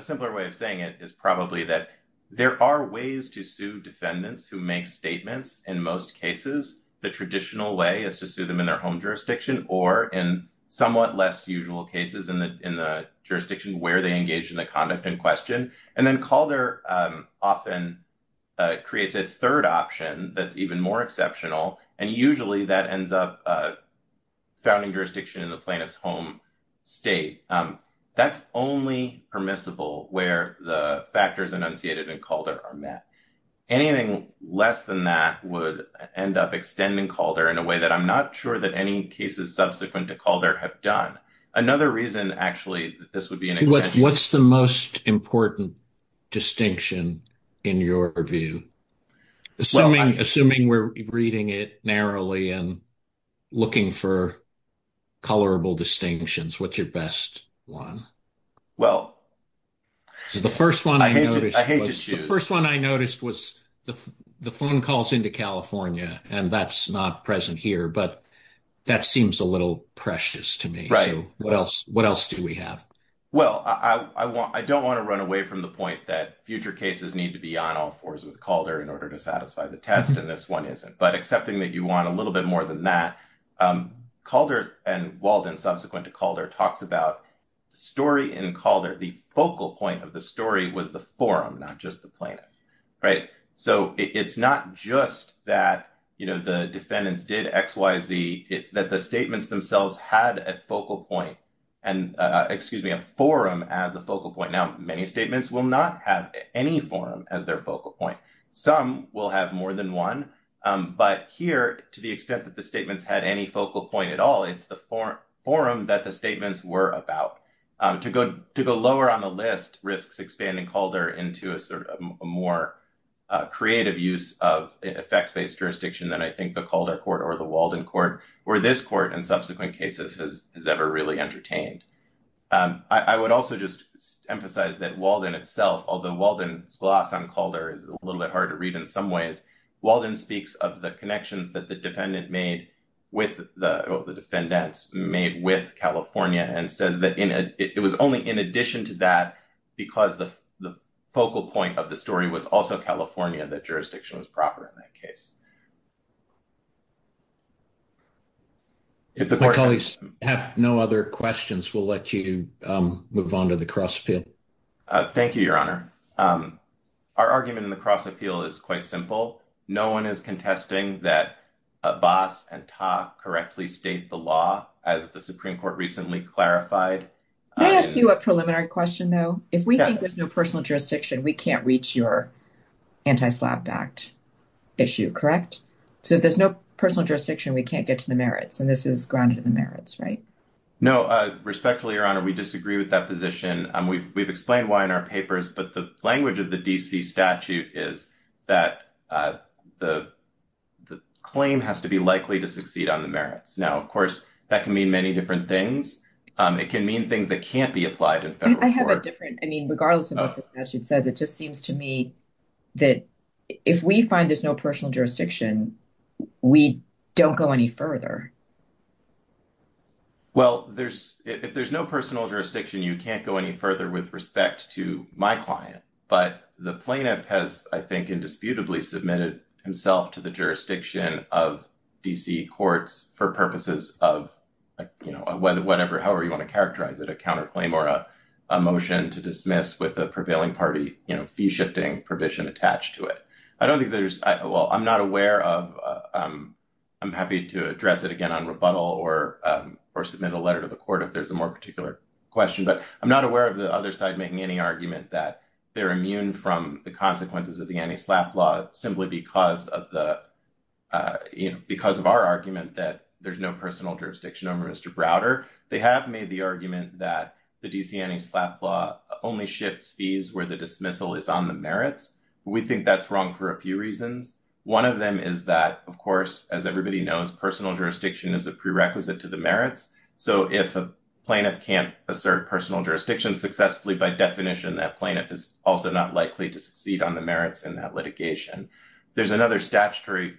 simpler way of saying it is probably that there are ways to sue defendants who make statements. In most cases, the traditional way is to sue them in their home jurisdiction or in somewhat less usual cases in the jurisdiction where they engage in the conduct in question. And then Calder often creates a third option that's even more exceptional. And usually that ends up founding jurisdiction in the plaintiff's home state. That's only permissible where the factors enunciated in Calder are met. Anything less than that would end up extending Calder in a way that I'm not sure that any cases subsequent to Calder have done. Another reason, actually, that this would be an exception. What's the most important distinction in your view? Assuming we're reading it narrowly and looking for colorable distinctions, what's your best one? Well, I hate to choose. The first one I noticed was the phone calls into California, and that's not present here. But that seems a little precious to me. What else do we have? Well, I don't want to run away from the point that future cases need to be on all fours with Calder in order to satisfy the test, and this one isn't. But accepting that you want a little bit more than that, Calder and Walden subsequent to Calder talked about story in Calder. The focal point of the story was the forum, not just the plan, right? So it's not just that, you know, the defendants did X, Y, Z. It's that the statements themselves had a focal point and, excuse me, a forum as a focal point. Now, many statements will not have any forum as their focal point. Some will have more than one. But here, to the extent that the statements had any focal point at all, it's the forum that the statements were about. To go lower on the list risks expanding Calder into a sort of more creative use of effects-based jurisdiction than I think the Calder court or the Walden court or this court in subsequent cases has ever really entertained. I would also just emphasize that Walden itself, although Walden's gloss on Calder is a little bit hard to read in some ways, Walden speaks of the connections that the defendant made with the defendants made with California and said that it was only in addition to that because the focal point of the story was also California, that jurisdiction was proper in that case. If the colleagues have no other questions, we'll let you move on to the cross appeal. Thank you, Your Honor. Our argument in the cross appeal is quite simple. No one is contesting that Voss and Toff correctly state the law as the Supreme Court recently clarified. Can I ask you a preliminary question, though? If we think there's no personal jurisdiction, we can't reach your anti-SLAPP Act issue, correct? So there's no personal jurisdiction, we can't get to the merits, and this is grounded in the merits, right? No, respectfully, Your Honor, we disagree with that position. We've explained why in our papers, but the language of the D.C. statute is that the claim has to be likely to succeed on the merits. Now, of course, that can mean many different things. It can mean things that can't be applied in federal court. I have a different – I mean, regardless of what the statute says, it just seems to me that if we find there's no personal jurisdiction, we don't go any further. Well, there's – if there's no personal jurisdiction, you can't go any further with respect to my client. But the plaintiff has, I think, indisputably submitted himself to the jurisdiction of D.C. courts for purposes of, you know, whatever, however you want to characterize it, a counterclaim or a motion to dismiss with a prevailing party, you know, fee-shifting provision attached to it. I don't think there's – well, I'm not aware of – I'm happy to address it again on rebuttal or submit a letter to the court if there's a more particular question, but I'm not aware of the other side making any argument that they're immune from the consequences of the anti-SLAPP law simply because of the – because of our argument that there's no personal jurisdiction under Mr. Browder. They have made the argument that the D.C. anti-SLAPP law only shifts fees where the dismissal is on the merits. We think that's wrong for a few reasons. One of them is that, of course, as everybody knows, personal jurisdiction is a prerequisite to the merits. So if a plaintiff can't assert personal jurisdiction successfully by definition, that plaintiff is also not likely to succeed on the merits in that litigation. There's another statutory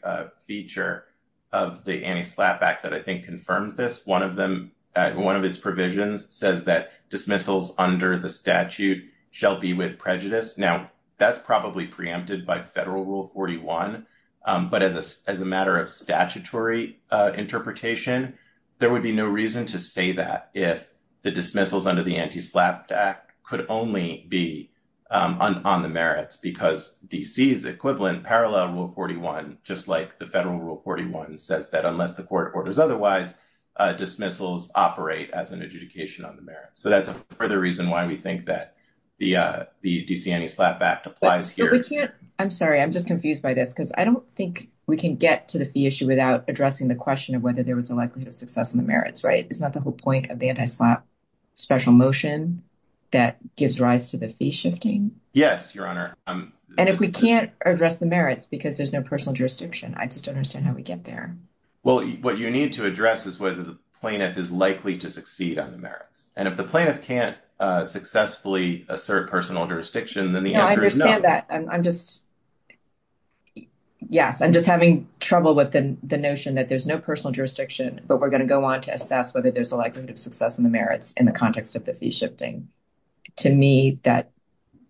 feature of the anti-SLAPP Act that I think confirms this. One of them – one of its provisions says that dismissals under the statute shall be with prejudice. Now, that's probably preempted by Federal Rule 41, but as a matter of statutory interpretation, there would be no reason to say that if the dismissals under the anti-SLAPP Act could only be on the merits because D.C.'s equivalent, Parallel Rule 41, just like the Federal Rule 41, says that unless the court orders otherwise, dismissals operate as an adjudication on the merits. So that's a further reason why we think that the D.C. Anti-SLAPP Act applies here. I'm sorry. I'm just confused by this because I don't think we can get to the fee issue without addressing the question of whether there was a likelihood of success on the merits, right? It's not the whole point of the anti-SLAPP special motion that gives rise to the fee shifting? Yes, Your Honor. And if we can't address the merits because there's no personal jurisdiction, I just don't understand how we get there. Well, what you need to address is whether the plaintiff is likely to succeed on the merits. And if the plaintiff can't successfully assert personal jurisdiction, then the answer is no. I understand that. I'm just, yes, I'm just having trouble with the notion that there's no personal jurisdiction, but we're going to go on to assess whether there's a likelihood of success in the merits in the context of the fee shifting. To me, that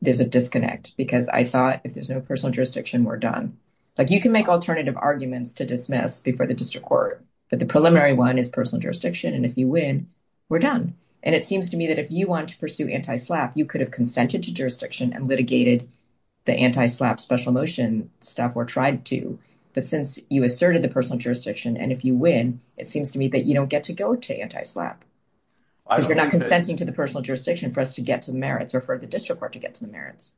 is a disconnect because I thought if there's no personal jurisdiction, we're done. Like you can make alternative arguments to dismiss before the district court, but the preliminary one is personal jurisdiction. And if you win, we're done. And it seems to me that if you want to pursue anti-SLAPP, you could have consented to jurisdiction and litigated the anti-SLAPP special motion staff were tried to. But since you asserted the personal jurisdiction and if you win, it seems to me that you don't get to go to anti-SLAPP. You're not consenting to the personal jurisdiction for us to get to the merits or for the district court to get to the merits.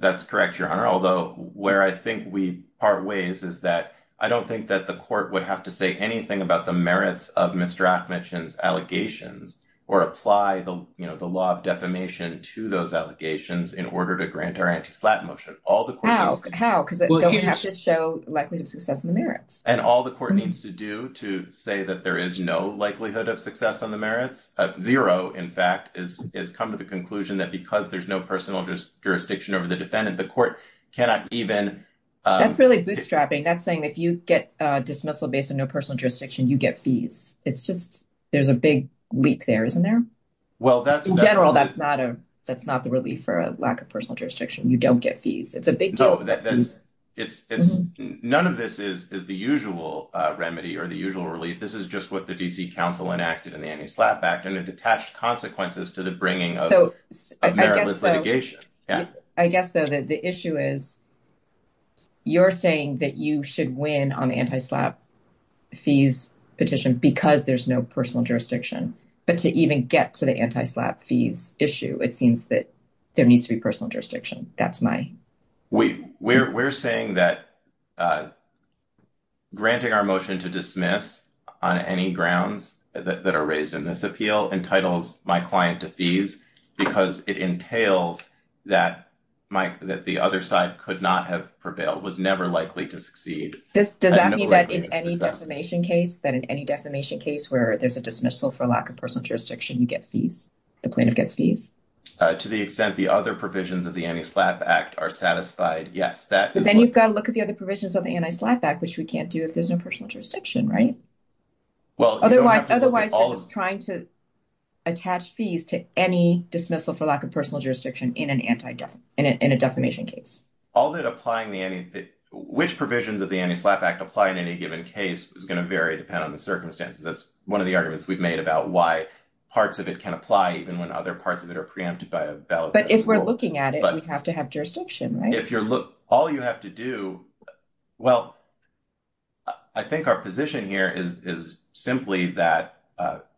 That's correct, Your Honor, although where I think we part ways is that I don't think that the court would have to say anything about the merits of Mr. Achmed's allegations or apply the law of defamation to those allegations in order to grant our anti-SLAPP motion. How? How? Because it doesn't have to show likelihood of success in the merits. And all the court needs to do to say that there is no likelihood of success on the merits. Zero, in fact, has come to the conclusion that because there's no personal jurisdiction over the defendant, the court cannot even. That's really bootstrapping. That's saying if you get dismissal based on no personal jurisdiction, you get fees. It's just there's a big leak there, isn't there? Well, in general, that's not a that's not the relief for a lack of personal jurisdiction. You don't get fees. It's a big deal. None of this is the usual remedy or the usual relief. This is just what the D.C. Council enacted in the anti-SLAPP Act and it's attached consequences to the bringing of meritless litigation. I guess the issue is. You're saying that you should win on anti-SLAPP fees petition because there's no personal jurisdiction. But to even get to the anti-SLAPP fees issue, it seems that there needs to be personal jurisdiction. We're saying that granting our motion to dismiss on any grounds that are raised in this appeal entitles my client to fees because it entails that the other side could not have prevailed, was never likely to succeed. Does that mean that in any defamation case, that in any defamation case where there's a dismissal for lack of personal jurisdiction, you get fees? To the extent the other provisions of the anti-SLAPP Act are satisfied, yes. Then you've got to look at the other provisions of the anti-SLAPP Act, which we can't do if there's no personal jurisdiction, right? Well, otherwise, trying to attach fees to any dismissal for lack of personal jurisdiction in an anti-definition case. All that applying the which provisions of the anti-SLAPP Act apply in any given case is going to vary depending on the circumstances. That's one of the arguments we've made about why parts of it can apply even when other parts of it are preempted by a valid. But if we're looking at it, we have to have jurisdiction, right? All you have to do, well, I think our position here is simply that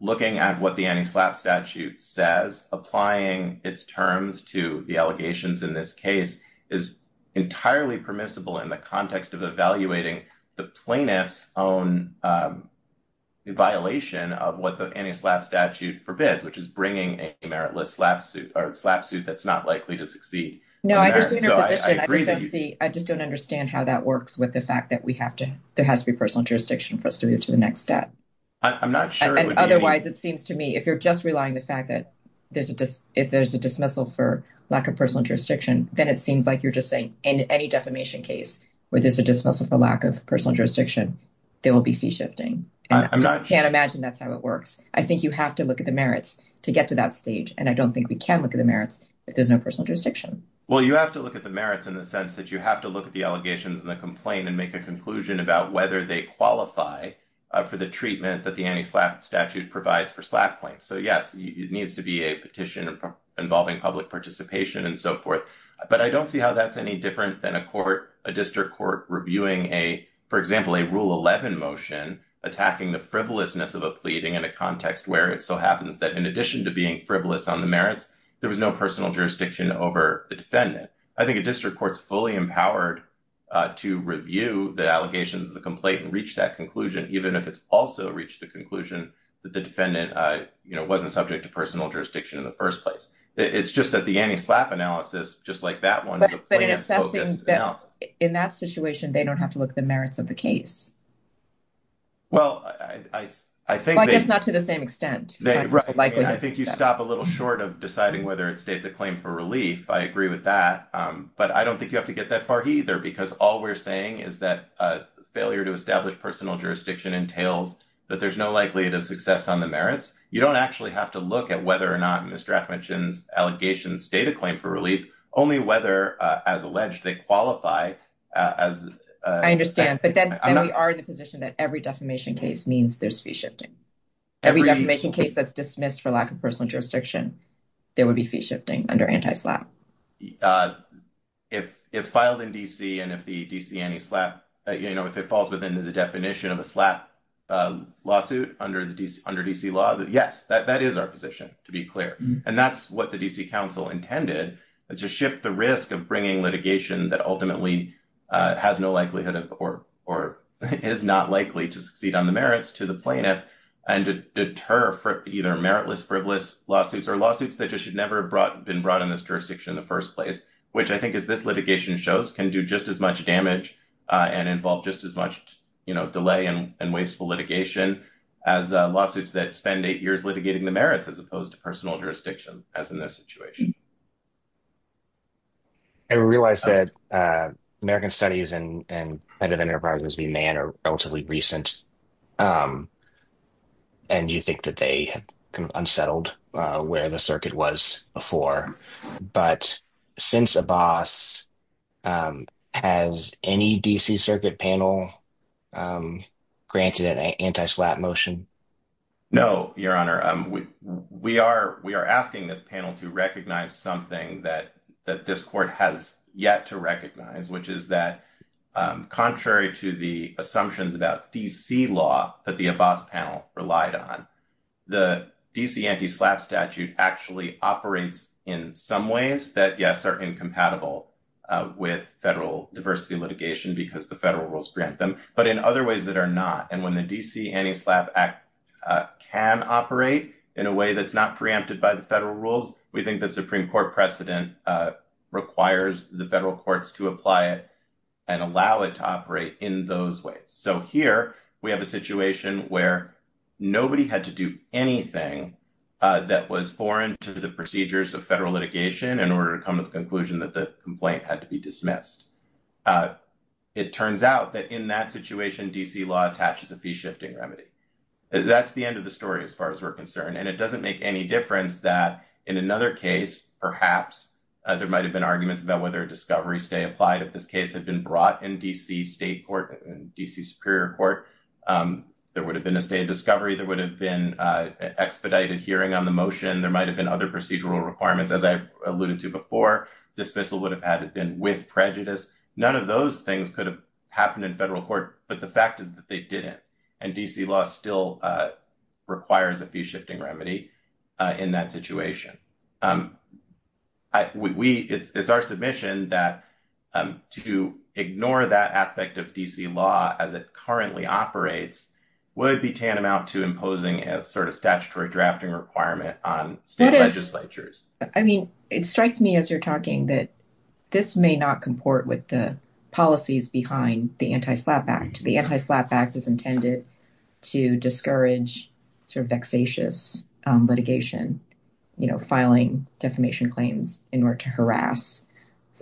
looking at what the anti-SLAPP statute says, applying its terms to the allegations in this case is entirely permissible in the context of evaluating the plaintiff's own violation of what the anti-SLAPP statute forbids, which is bringing a meritless SLAPP suit or a SLAPP suit that's not likely to succeed. No, I just don't understand how that works with the fact that there has to be personal jurisdiction for us to move to the next step. I'm not sure. Otherwise, it seems to me if you're just relying on the fact that if there's a dismissal for lack of personal jurisdiction, then it seems like you're just saying in any defamation case where there's a dismissal for lack of personal jurisdiction, there will be fee shifting. I'm not sure. I imagine that's how it works. I think you have to look at the merits to get to that stage, and I don't think we can look at the merits if there's no personal jurisdiction. Well, you have to look at the merits in the sense that you have to look at the allegations in the complaint and make a conclusion about whether they qualify for the treatment that the anti-SLAPP statute provides for SLAPP claims. So, yes, it needs to be a petition involving public participation and so forth. But I don't see how that's any different than a court, a district court reviewing a, for example, a Rule 11 motion attacking the frivolousness of a pleading in a context where it so happens that in addition to being frivolous on the merits, there was no personal jurisdiction over the defendant. I think a district court's fully empowered to review the allegations of the complaint and reach that conclusion, even if it's also reached the conclusion that the defendant wasn't subject to personal jurisdiction in the first place. It's just that the anti-SLAPP analysis, just like that one, the claims focus now. But in that situation, they don't have to look at the merits of the case. Well, I think they... I guess not to the same extent. Right. I think you stop a little short of deciding whether it states a claim for relief. I agree with that. But I don't think you have to get that far either because all we're saying is that failure to establish personal jurisdiction entails that there's no likelihood of success on the merits. You don't actually have to look at whether or not Mr. Affleck mentions allegations state a claim for relief, only whether, as alleged, they qualify as... I understand. But then we are in the position that every defamation case means there's fee shifting. Every defamation case that's dismissed for lack of personal jurisdiction, there would be fee shifting under anti-SLAPP. If filed in D.C. and if the D.C. anti-SLAPP, if it falls within the definition of a SLAPP lawsuit under D.C. laws, yes, that is our position, to be clear. And that's what the D.C. Council intended, to shift the risk of bringing litigation that ultimately has no likelihood or is not likely to succeed on the merits to the plaintiff and deter either meritless, frivolous lawsuits or lawsuits that should never have been brought on this jurisdiction. The first place, which I think is this litigation shows, can do just as much damage and involve just as much delay and wasteful litigation as lawsuits that spend eight years litigating the merits as opposed to personal jurisdiction as in this situation. I realize that American Studies and other enterprises being banned are relatively recent. And you think that they kind of unsettled where the circuit was before. But since a boss has any D.C. Circuit panel granted an anti-SLAPP motion? No, Your Honor. We are asking this panel to recognize something that this court has yet to recognize, which is that contrary to the assumptions about D.C. law that the above panel relied on, the D.C. anti-SLAPP statute actually operates in some ways that, yes, are incompatible with federal diversity litigation because the federal rules grant them, but in other ways that are not. And when the D.C. Anti-SLAPP Act can operate in a way that's not preempted by the federal rules, we think the Supreme Court precedent requires the federal courts to apply it and allow it to operate in those ways. So here we have a situation where nobody had to do anything that was foreign to the procedures of federal litigation in order to come to the conclusion that the complaint had to be dismissed. It turns out that in that situation, D.C. law attaches a fee-shifting remedy. That's the end of the story as far as we're concerned. And it doesn't make any difference that in another case, perhaps, there might have been arguments about whether a discovery stay applied. If this case had been brought in D.C. State Court, D.C. Superior Court, there would have been a state of discovery. There would have been expedited hearing on the motion. There might have been other procedural requirements, as I alluded to before. The dismissal would have had to have been with prejudice. None of those things could have happened in federal court. But the fact is that they didn't. And D.C. law still requires a fee-shifting remedy in that situation. It's our submission that to ignore that aspect of D.C. law as it currently operates would be tantamount to imposing a sort of statutory drafting requirement on state legislatures. I mean, it strikes me as you're talking that this may not comport with the policies behind the Anti-SLAPP Act. The Anti-SLAPP Act is intended to discourage sort of vexatious litigation, you know, filing defamation claims in order to harass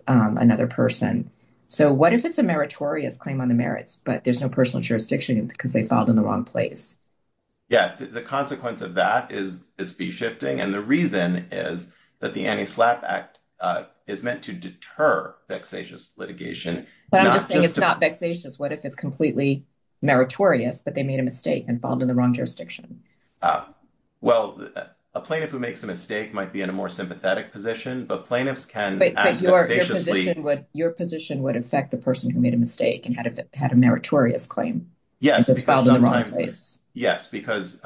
another person. So what if it's a meritorious claim on the merits, but there's no personal jurisdiction because they filed in the wrong place? Yes, the consequence of that is fee-shifting. And the reason is that the Anti-SLAPP Act is meant to deter vexatious litigation. But I'm just saying it's not vexatious. What if it's completely meritorious, but they made a mistake and filed in the wrong jurisdiction? Well, a plaintiff who makes a mistake might be in a more sympathetic position, but plaintiffs can act vexatiously. Your position would affect the person who made a mistake and had a meritorious claim. Yes, because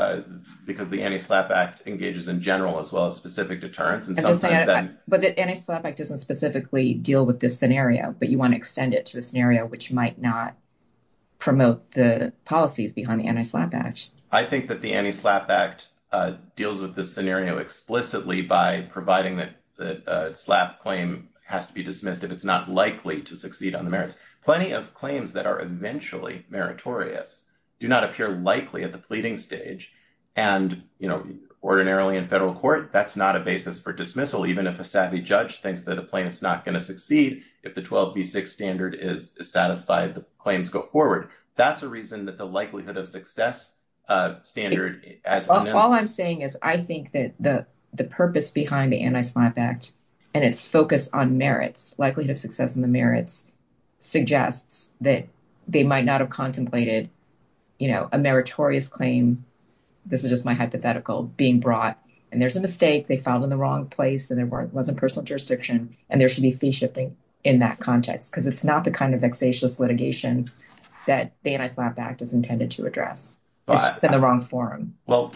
the Anti-SLAPP Act engages in general as well as specific deterrence. But the Anti-SLAPP Act doesn't specifically deal with this scenario, but you want to extend it to a scenario which might not promote the policies behind the Anti-SLAPP Act. I think that the Anti-SLAPP Act deals with this scenario explicitly by providing that a SLAPP claim has to be dismissed if it's not likely to succeed on the merits. Plenty of claims that are eventually meritorious do not appear likely at the pleading stage. And, you know, ordinarily in federal court, that's not a basis for dismissal. Even if a savvy judge thinks that a claim is not going to succeed, if the 12b6 standard is satisfied, the claims go forward. That's a reason that the likelihood of success standard as— All I'm saying is I think that the purpose behind the Anti-SLAPP Act and its focus on merits, likelihood of success in the merits, suggests that they might not have contemplated, you know, a meritorious claim—this is just my hypothetical—being brought. And there's a mistake, they filed in the wrong place, and there wasn't personal jurisdiction, and there should be fee shipping in that context. Because it's not the kind of vexatious litigation that the Anti-SLAPP Act is intended to address. It's in the wrong forum. Well,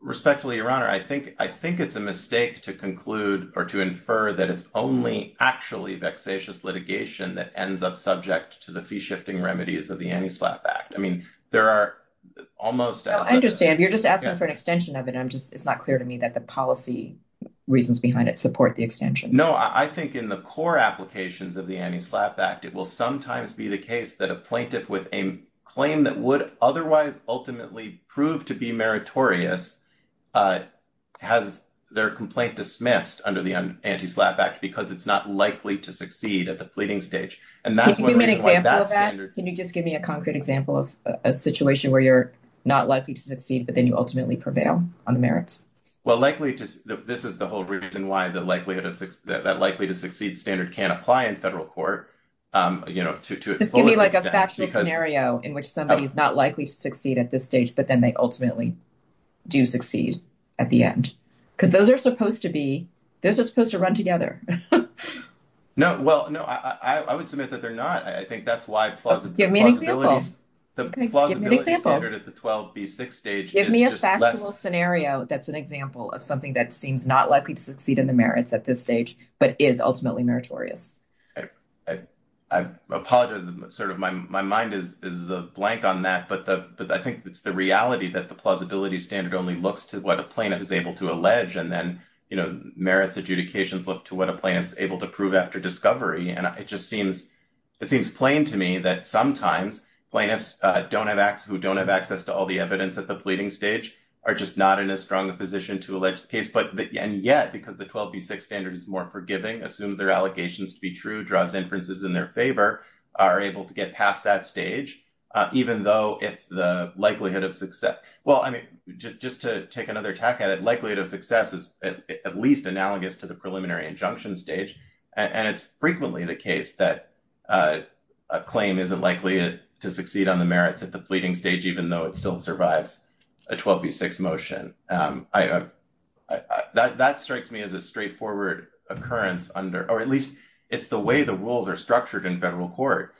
respectfully, Your Honor, I think it's a mistake to conclude or to infer that it's only actually vexatious litigation that ends up subject to the fee-shifting remedies of the Anti-SLAPP Act. I mean, there are almost— I understand. You're just asking for an extension of it. It's just not clear to me that the policy reasons behind it support the extension. No, I think in the core applications of the Anti-SLAPP Act, it will sometimes be the case that a plaintiff with a claim that would otherwise ultimately prove to be meritorious has their complaint dismissed under the Anti-SLAPP Act because it's not likely to succeed at the pleading stage. Can you give me an example of that? Can you just give me a concrete example of a situation where you're not likely to succeed, but then you ultimately prevail on the merits? Well, this is the whole reason why that likely-to-succeed standard can't apply in federal court. It's going to be like a factual scenario in which somebody is not likely to succeed at this stage, but then they ultimately do succeed at the end. Because those are supposed to be—those are supposed to run together. No, well, no, I would submit that they're not. I think that's why plausibility— Give me an example. Give me an example. Give me a factual scenario that's an example of something that seems not likely to succeed in the merits at this stage, but is ultimately meritorious. I apologize. My mind is blank on that. But I think it's the reality that the plausibility standard only looks to what a plaintiff is able to allege, and then merits adjudications look to what a plaintiff is able to prove after discovery. And it just seems—it seems plain to me that sometimes plaintiffs who don't have access to all the evidence at the pleading stage are just not in a strong position to allege the case. And yet, because the 12B6 standard is more forgiving, assumes their allegations to be true, draws inferences in their favor, are able to get past that stage, even though the likelihood of success— Well, I mean, just to take another tack at it, likelihood of success is at least analogous to the preliminary injunction stage. And it's frequently the case that a claim isn't likely to succeed on the merits at the pleading stage, even though it still survives a 12B6 motion. That strikes me as a straightforward occurrence under—or at least it's the way the rules are structured in federal court.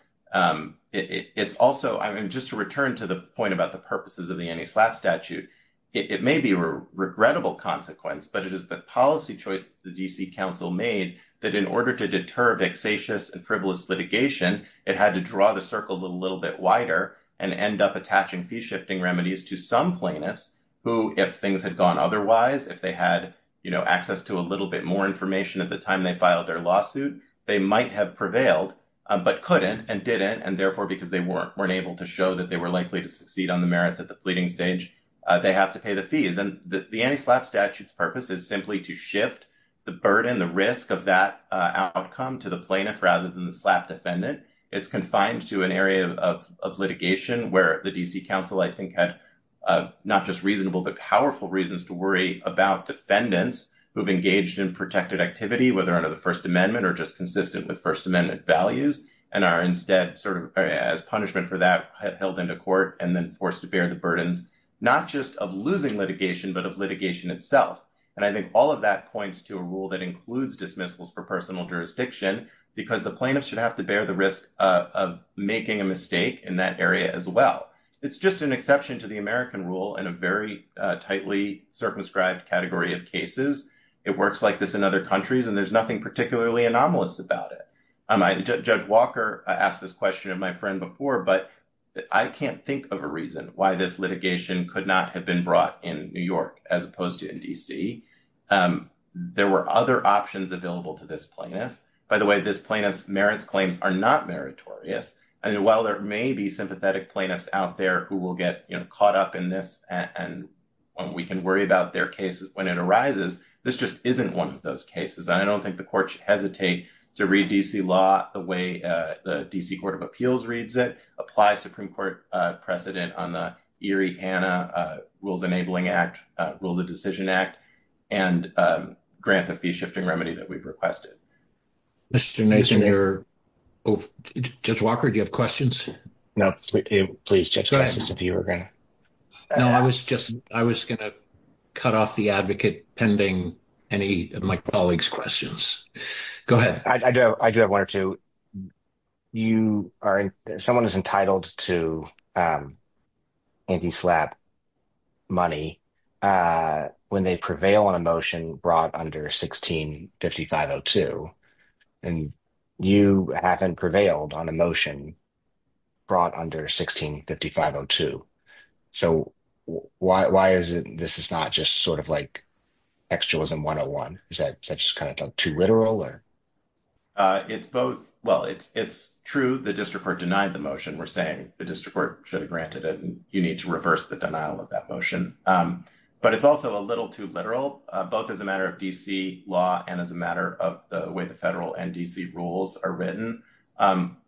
It's also—I mean, just to return to the point about the purposes of the anti-slap statute, it may be a regrettable consequence, but it is the policy choice the D.C. Council made that in order to deter vexatious and frivolous litigation, it had to draw the circle a little bit wider and end up attaching fee-shifting remedies to some plaintiffs who, if things had gone otherwise, if they had, you know, access to a little bit more information at the time they filed their lawsuit, they might have prevailed but couldn't and didn't, and therefore, because they weren't able to show that they were likely to succeed on the merits at the pleading stage, they have to pay the fees. And the anti-slap statute's purpose is simply to shift the burden, the risk of that outcome to the plaintiff rather than the slap defendant. It's confined to an area of litigation where the D.C. Council, I think, had not just reasonable but powerful reasons to worry about defendants who have engaged in protected activity, whether under the First Amendment or just consistent with First Amendment values, and are instead sort of as punishment for that held into court and then forced to bear the burden not just of losing litigation but of litigation itself. And I think all of that points to a rule that includes dismissals for personal jurisdiction because the plaintiffs should have to bear the risk of making a mistake in that area as well. It's just an exception to the American rule in a very tightly circumscribed category of cases. It works like this in other countries, and there's nothing particularly anomalous about it. Judge Walker asked this question of my friend before, but I can't think of a reason why this litigation could not have been brought in New York as opposed to in D.C. There were other options available to this plaintiff. By the way, this plaintiff's merits claims are not meritorious, and while there may be sympathetic plaintiffs out there who will get caught up in this and we can worry about their cases when it arises, this just isn't one of those cases. I don't think the court should hesitate to read D.C. law the way the D.C. Court of Appeals reads it, apply Supreme Court precedent on the Erie Hanna Rules Enabling Act, Rule of Decision Act, and grant the fee-shifting remedy that we've requested. Mr. Nason, you're over. Judge Walker, do you have questions? No. Please, Judge Nason, if you were going to. No, I was going to cut off the advocate pending any of my colleague's questions. Go ahead. I do have one or two. Someone is entitled to anti-SLAPP money when they prevail on a motion brought under 16-5502, and you haven't prevailed on a motion brought under 16-5502. So why is it this is not just sort of like textualism 101? Is that just kind of too literal? Well, it's true the district court denied the motion. We're saying the district court should have granted it, and you need to reverse the denial of that motion. But it's also a little too literal, both as a matter of D.C. law and as a matter of the way the federal and D.C. rules are written.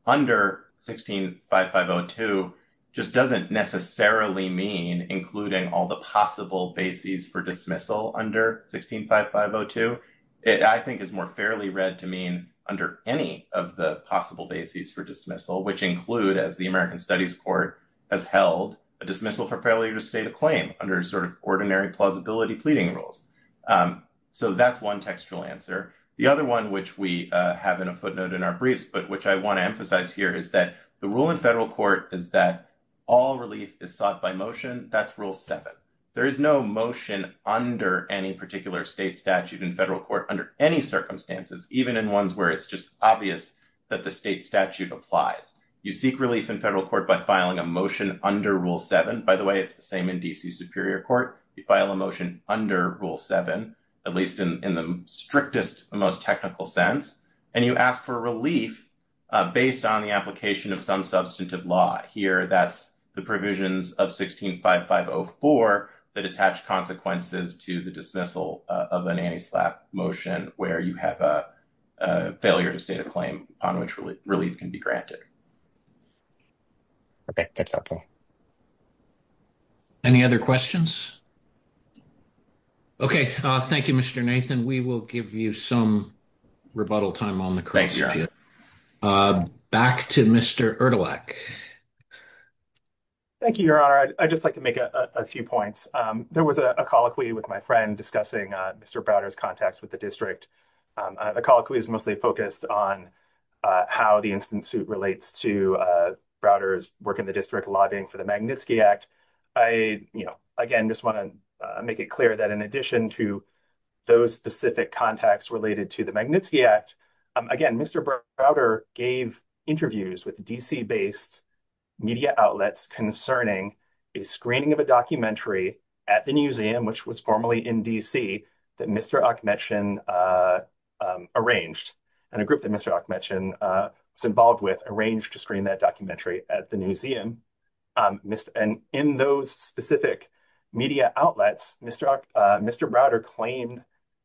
Under 16-5502 just doesn't necessarily mean including all the possible bases for dismissal under 16-5502. It, I think, is more fairly read to mean under any of the possible bases for dismissal, which include, as the American Studies Court has held, a dismissal for failure to state a claim under sort of ordinary plausibility pleading rules. So that's one textual answer. The other one, which we have in a footnote in our briefs, but which I want to emphasize here, is that the rule in federal court is that all release is sought by motion. That's Rule 7. There is no motion under any particular state statute in federal court under any circumstances, even in ones where it's just obvious that the state statute applies. You seek release in federal court by filing a motion under Rule 7. By the way, it's the same in D.C. Superior Court. You file a motion under Rule 7, at least in the strictest and most technical sense, and you ask for relief based on the application of some substantive law. Here, that's the provisions of 16.5504 that attach consequences to the dismissal of an anti-slap motion, where you have a failure to state a claim on which relief can be granted. Okay. Any other questions? Okay. Thank you, Mr. Nathan. We will give you some rebuttal time on the court. Thank you. Back to Mr. Erdelich. Thank you, Your Honor. I'd just like to make a few points. There was a colloquy with my friend discussing Mr. Browder's contacts with the district. The colloquy is mostly focused on how the instant suit relates to Browder's work in the district, lobbying for the Magnitsky Act. I, again, just want to make it clear that in addition to those specific contacts related to the Magnitsky Act, again, Mr. Browder gave interviews with D.C.-based media outlets concerning a screening of a documentary at the museum, which was formerly in D.C., that Mr. Achmetchen arranged, and a group that Mr. Achmetchen was involved with arranged to screen that documentary at the museum. In those specific media outlets, Mr. Browder claimed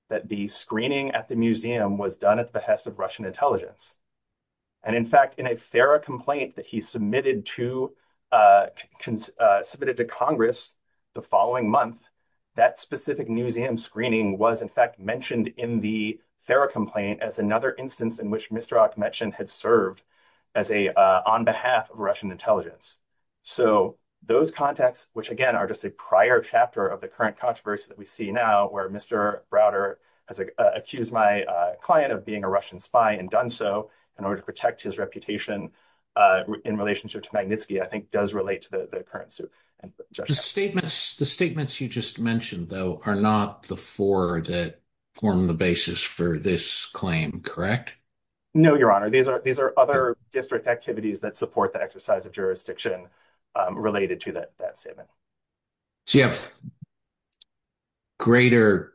that the screening at the museum was done at the behest of Russian intelligence. In fact, in a FARA complaint that he submitted to Congress the following month, that specific museum screening was in fact mentioned in the FARA complaint as another instance in which Mr. Achmetchen had served on behalf of Russian intelligence. So those contacts, which, again, are just a prior chapter of the current controversy that we see now, where Mr. Browder has accused my client of being a Russian spy and done so in order to protect his reputation in relationship to Magnitsky, I think does relate to the current suit. The statements you just mentioned, though, are not the four that form the basis for this claim, correct? No, Your Honor. These are other district activities that support the exercise of jurisdiction related to that statement. So you have a greater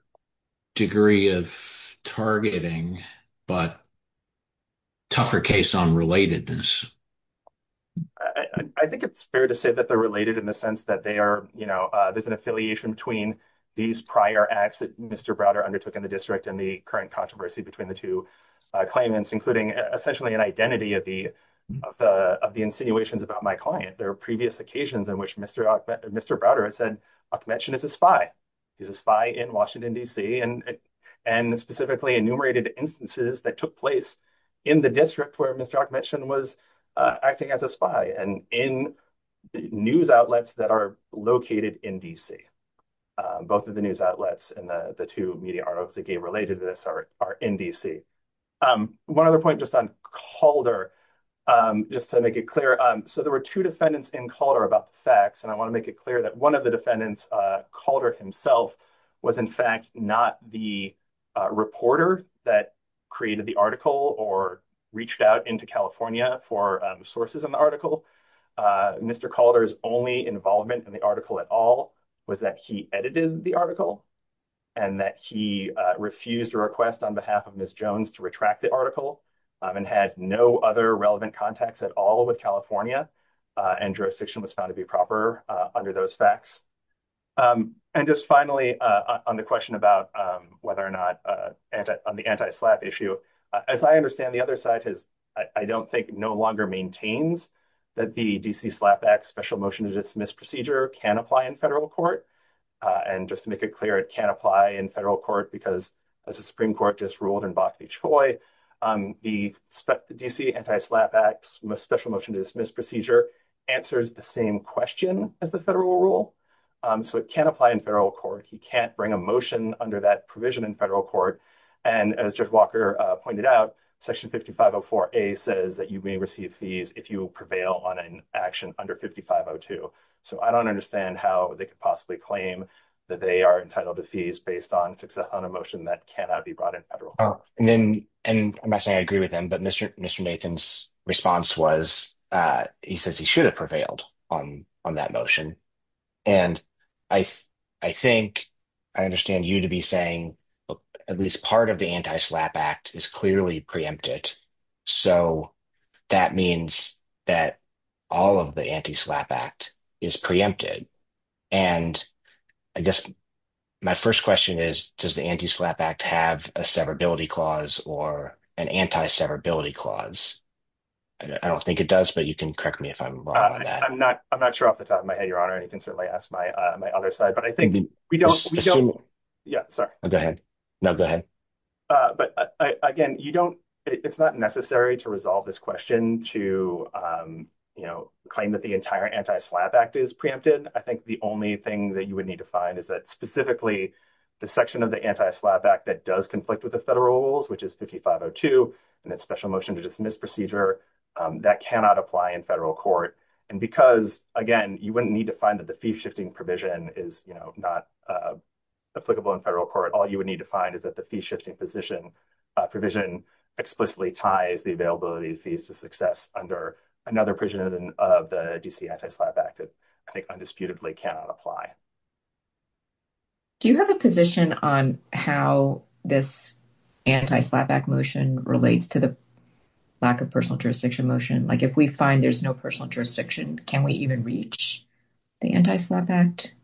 degree of targeting, but a tougher case on relatedness. I think it's fair to say that they're related in the sense that there's an affiliation between these prior acts that Mr. Browder undertook in the district and the current controversy between the two claimants, including essentially an identity of the insinuations about my client. There are previous occasions in which Mr. Browder had said Achmetchen is a spy. He's a spy in Washington, D.C., and specifically enumerated instances that took place in the district where Mr. Achmetchen was acting as a spy and in news outlets that are located in D.C. Both of the news outlets and the two media outlets that get related to this are in D.C. One other point just on Calder, just to make it clear. So there were two defendants in Calder about the facts, and I want to make it clear that one of the defendants, Calder himself, was in fact not the reporter that created the article or reached out into California for sources in the article. Mr. Calder's only involvement in the article at all was that he edited the article and that he refused a request on behalf of Ms. And jurisdiction was found to be proper under those facts. And just finally, on the question about whether or not on the anti-SLAPP issue, as I understand, the other side has, I don't think, no longer maintained that the D.C. SLAPP Act Special Motion to Dismiss Procedure can apply in federal court. And just to make it clear, it can apply in federal court because as the Supreme Court just ruled in Boston, the D.C. Anti-SLAPP Act Special Motion to Dismiss Procedure answers the same question as the federal rule. So it can apply in federal court. He can't bring a motion under that provision in federal court. And as Judge Walker pointed out, Section 5504A says that you may receive fees if you prevail on an action under 5502. So I don't understand how they could possibly claim that they are entitled to fees based on a motion that cannot be brought in federal court. I'm not saying I agree with him, but Mr. Nathan's response was he says he should have prevailed on that motion. And I think I understand you to be saying at least part of the Anti-SLAPP Act is clearly preempted. So that means that all of the Anti-SLAPP Act is preempted. And I guess my first question is, does the Anti-SLAPP Act have a severability clause or an anti-severability clause? I don't think it does, but you can correct me if I'm wrong on that. I'm not. I'm not sure off the top of my head, Your Honor, and you can certainly ask my other side, but I think we don't. Yeah. Go ahead. No, go ahead. But again, you don't. It's not necessary to resolve this question to, you know, claim that the entire Anti-SLAPP Act is preempted. I think the only thing that you would need to find is that specifically the section of the Anti-SLAPP Act that does conflict with the federal rules, which is 50502 and that special motion to dismiss procedure that cannot apply in federal court. And because, again, you wouldn't need to find that the fee shifting provision is not applicable in federal court. All you would need to find is that the fee shifting position provision explicitly ties the availability of fees to success under another version of the D.C. Anti-SLAPP Act that I think undisputedly cannot apply. Do you have a position on how this Anti-SLAPP Act motion relates to the lack of personal jurisdiction motion? Like if we find there's no personal jurisdiction, can we even reach the Anti-SLAPP Act?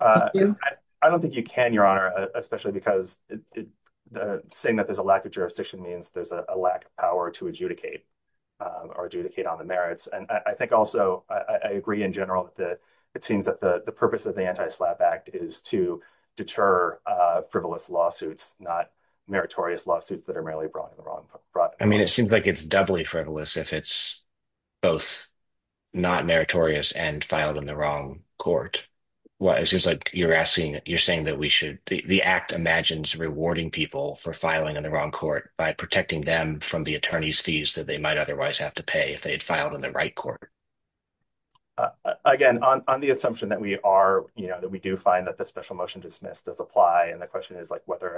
I don't think you can, Your Honor, especially because saying that there's a lack of jurisdiction means there's a lack of power to adjudicate or adjudicate on the merits. And I think also I agree in general that it seems that the purpose of the Anti-SLAPP Act is to deter frivolous lawsuits, not meritorious lawsuits that are merely brought in the wrong. I mean, it seems like it's doubly frivolous if it's both not meritorious and filed in the wrong court. It seems like you're asking, you're saying that we should, the Act imagines rewarding people for filing in the wrong court by protecting them from the attorney's fees that they might otherwise have to pay if they had filed in the right court. Again, on the assumption that we are, you know, that we do find that the special motion dismissed does apply, and the question is like whether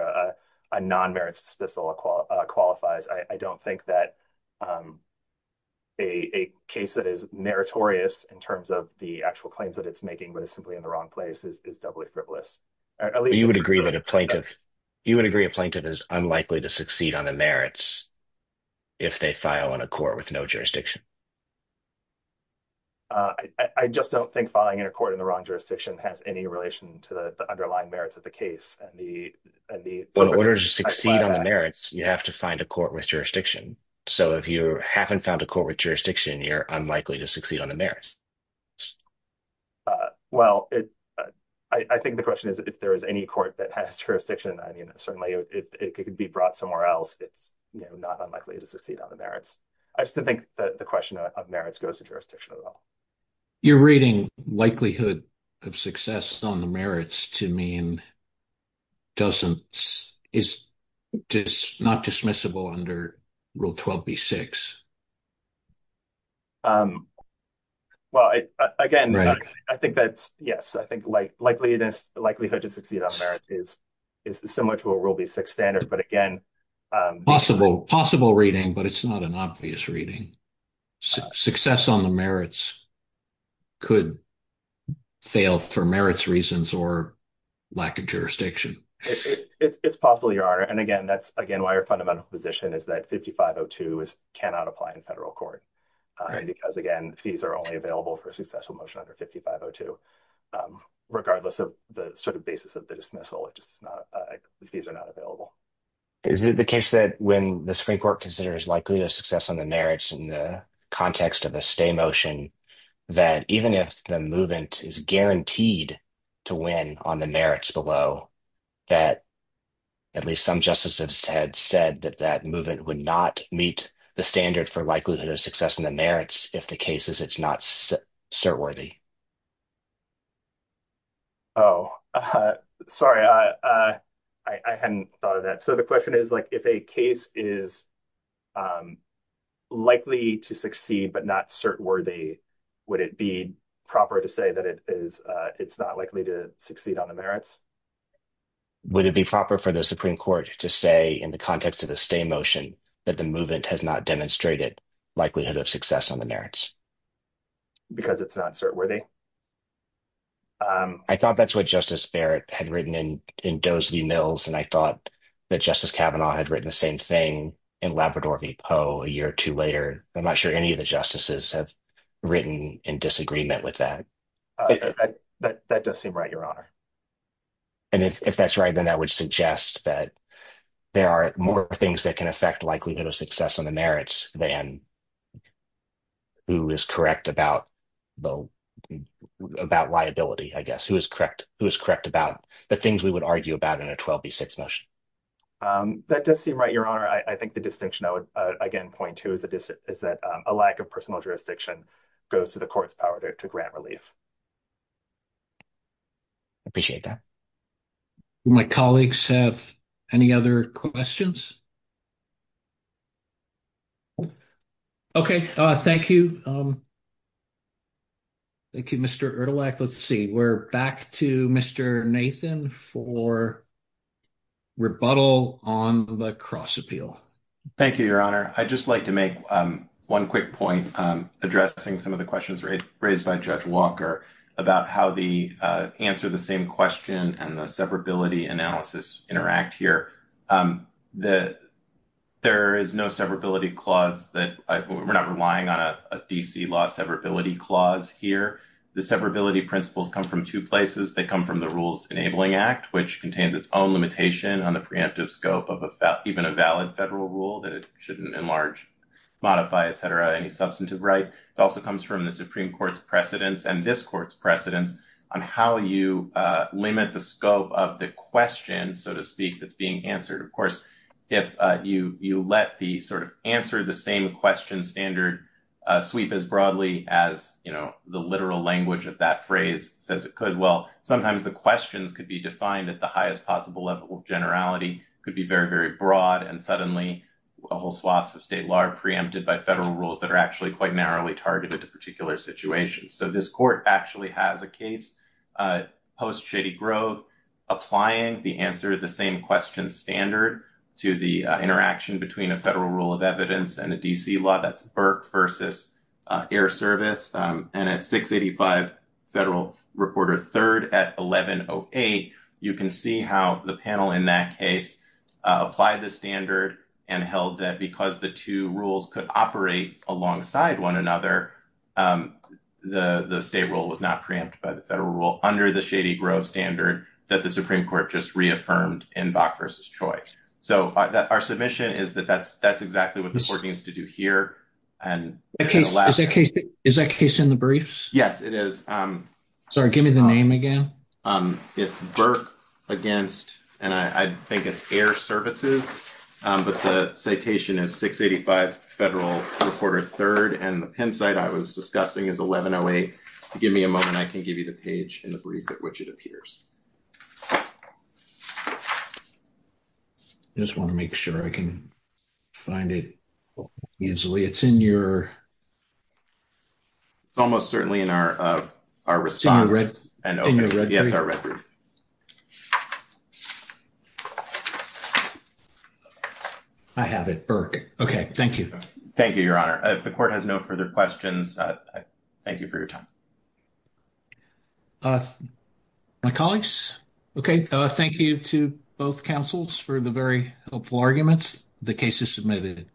a non-merits dismissal qualifies, I don't think that a case that is meritorious in terms of the actual claims that it's making but is simply in the wrong place is doubly frivolous. You would agree that a plaintiff, you would agree a plaintiff is unlikely to succeed on the merits if they file in a court with no jurisdiction? I just don't think filing in a court in the wrong jurisdiction has any relation to the underlying merits of the case. In order to succeed on the merits, you have to find a court with jurisdiction. So if you haven't found a court with jurisdiction, you're unlikely to succeed on the merits. Well, I think the question is if there is any court that has jurisdiction, I mean, certainly it could be brought somewhere else. It's not unlikely to succeed on the merits. I just don't think the question of merits goes to jurisdiction at all. You're reading likelihood of success on the merits to mean doesn't, is not dismissible under Rule 12b-6. Well, again, I think that's, yes, I think like likelihood to succeed on the merits is similar to a Rule 12b-6 standard, but again. Possible reading, but it's not an obvious reading. Success on the merits could fail for merits reasons or lack of jurisdiction. It's possible, Your Honor. And again, that's, again, why our fundamental position is that 5502 cannot apply to federal court. Because, again, fees are only available for a successful motion under 5502, regardless of the sort of basis of the dismissal. Fees are not available. Is it the case that when the Supreme Court considers likelihood of success on the merits in the context of a stay motion, that even if the movement is guaranteed to win on the merits below, that at least some justices had said that that movement would not meet the standard for likelihood of success in the merits if the case is it's not cert-worthy? Oh, sorry. I hadn't thought of that. So the question is, like, if a case is likely to succeed but not cert-worthy, would it be proper to say that it's not likely to succeed on the merits? Would it be proper for the Supreme Court to say in the context of the stay motion that the movement has not demonstrated likelihood of success on the merits? Because it's not cert-worthy? I thought that's what Justice Barrett had written in Dozier v. Mills, and I thought that Justice Kavanaugh had written the same thing in Labrador v. Poe a year or two later. I'm not sure any of the justices have written in disagreement with that. That does seem right, Your Honor. And if that's right, then that would suggest that there are more things that can affect likelihood of success on the merits than who is correct about liability, I guess, who is correct about the things we would argue about in a 12b6 motion. That does seem right, Your Honor. I think the distinction I would, again, point to is that a lack of personal jurisdiction goes to the court's power to grant relief. I appreciate that. Do my colleagues have any other questions? Okay. Thank you. Thank you, Mr. Erdelak. Let's see. We're back to Mr. Nathan for rebuttal on the cross appeal. Thank you, Your Honor. I'd just like to make one quick point addressing some of the questions raised by Judge Walker about how the answer to the same question and the severability analysis interact here. There is no severability clause that we're not relying on a DC law severability clause here. The severability principles come from two places. They come from the Rules Enabling Act, which contains its own limitation on the preemptive scope of even a valid federal rule that it shouldn't enlarge, modify, et cetera, any substantive right. It also comes from the Supreme Court's precedents and this court's precedents on how you limit the scope of the question, so to speak, that's being answered. Of course, if you let the sort of answer the same question standard sweep as broadly as, you know, the literal language of that phrase says it could, well, sometimes the questions could be defined at the highest possible level of generality. It could be very, very broad and suddenly a whole swath of state law are preempted by federal rules that are actually quite narrowly targeted to particular situations. So this court actually has a case post-Shady Grove applying the answer to the same question standard to the interaction between a federal rule of evidence and a DC law, that's Burke versus Air Service, and at 685 Federal Reporter 3rd at 1108, you can see how the panel in that case applied the standard and held that because the two rules could operate alongside one another, the state rule was not preempted by the federal rule under the Shady Grove standard that the Supreme Court just reaffirmed in Bach versus Choi. So our submission is that that's exactly what this court needs to do here. Is that case in the briefs? Yes, it is. Sorry, give me the name again. It's Burke against, and I think it's Air Services, but the citation is 685 Federal Reporter 3rd, and the Penn site I was discussing is 1108. Give me a moment, I can give you the page in the brief at which it appears. Just want to make sure I can find it easily. It's in your... It's almost certainly in our response. I have it, Burke. Okay, thank you. Thank you, Your Honor. If the court has no further questions, thank you for your time. My colleagues? Okay, thank you to both counsels for the very helpful arguments. The case is submitted.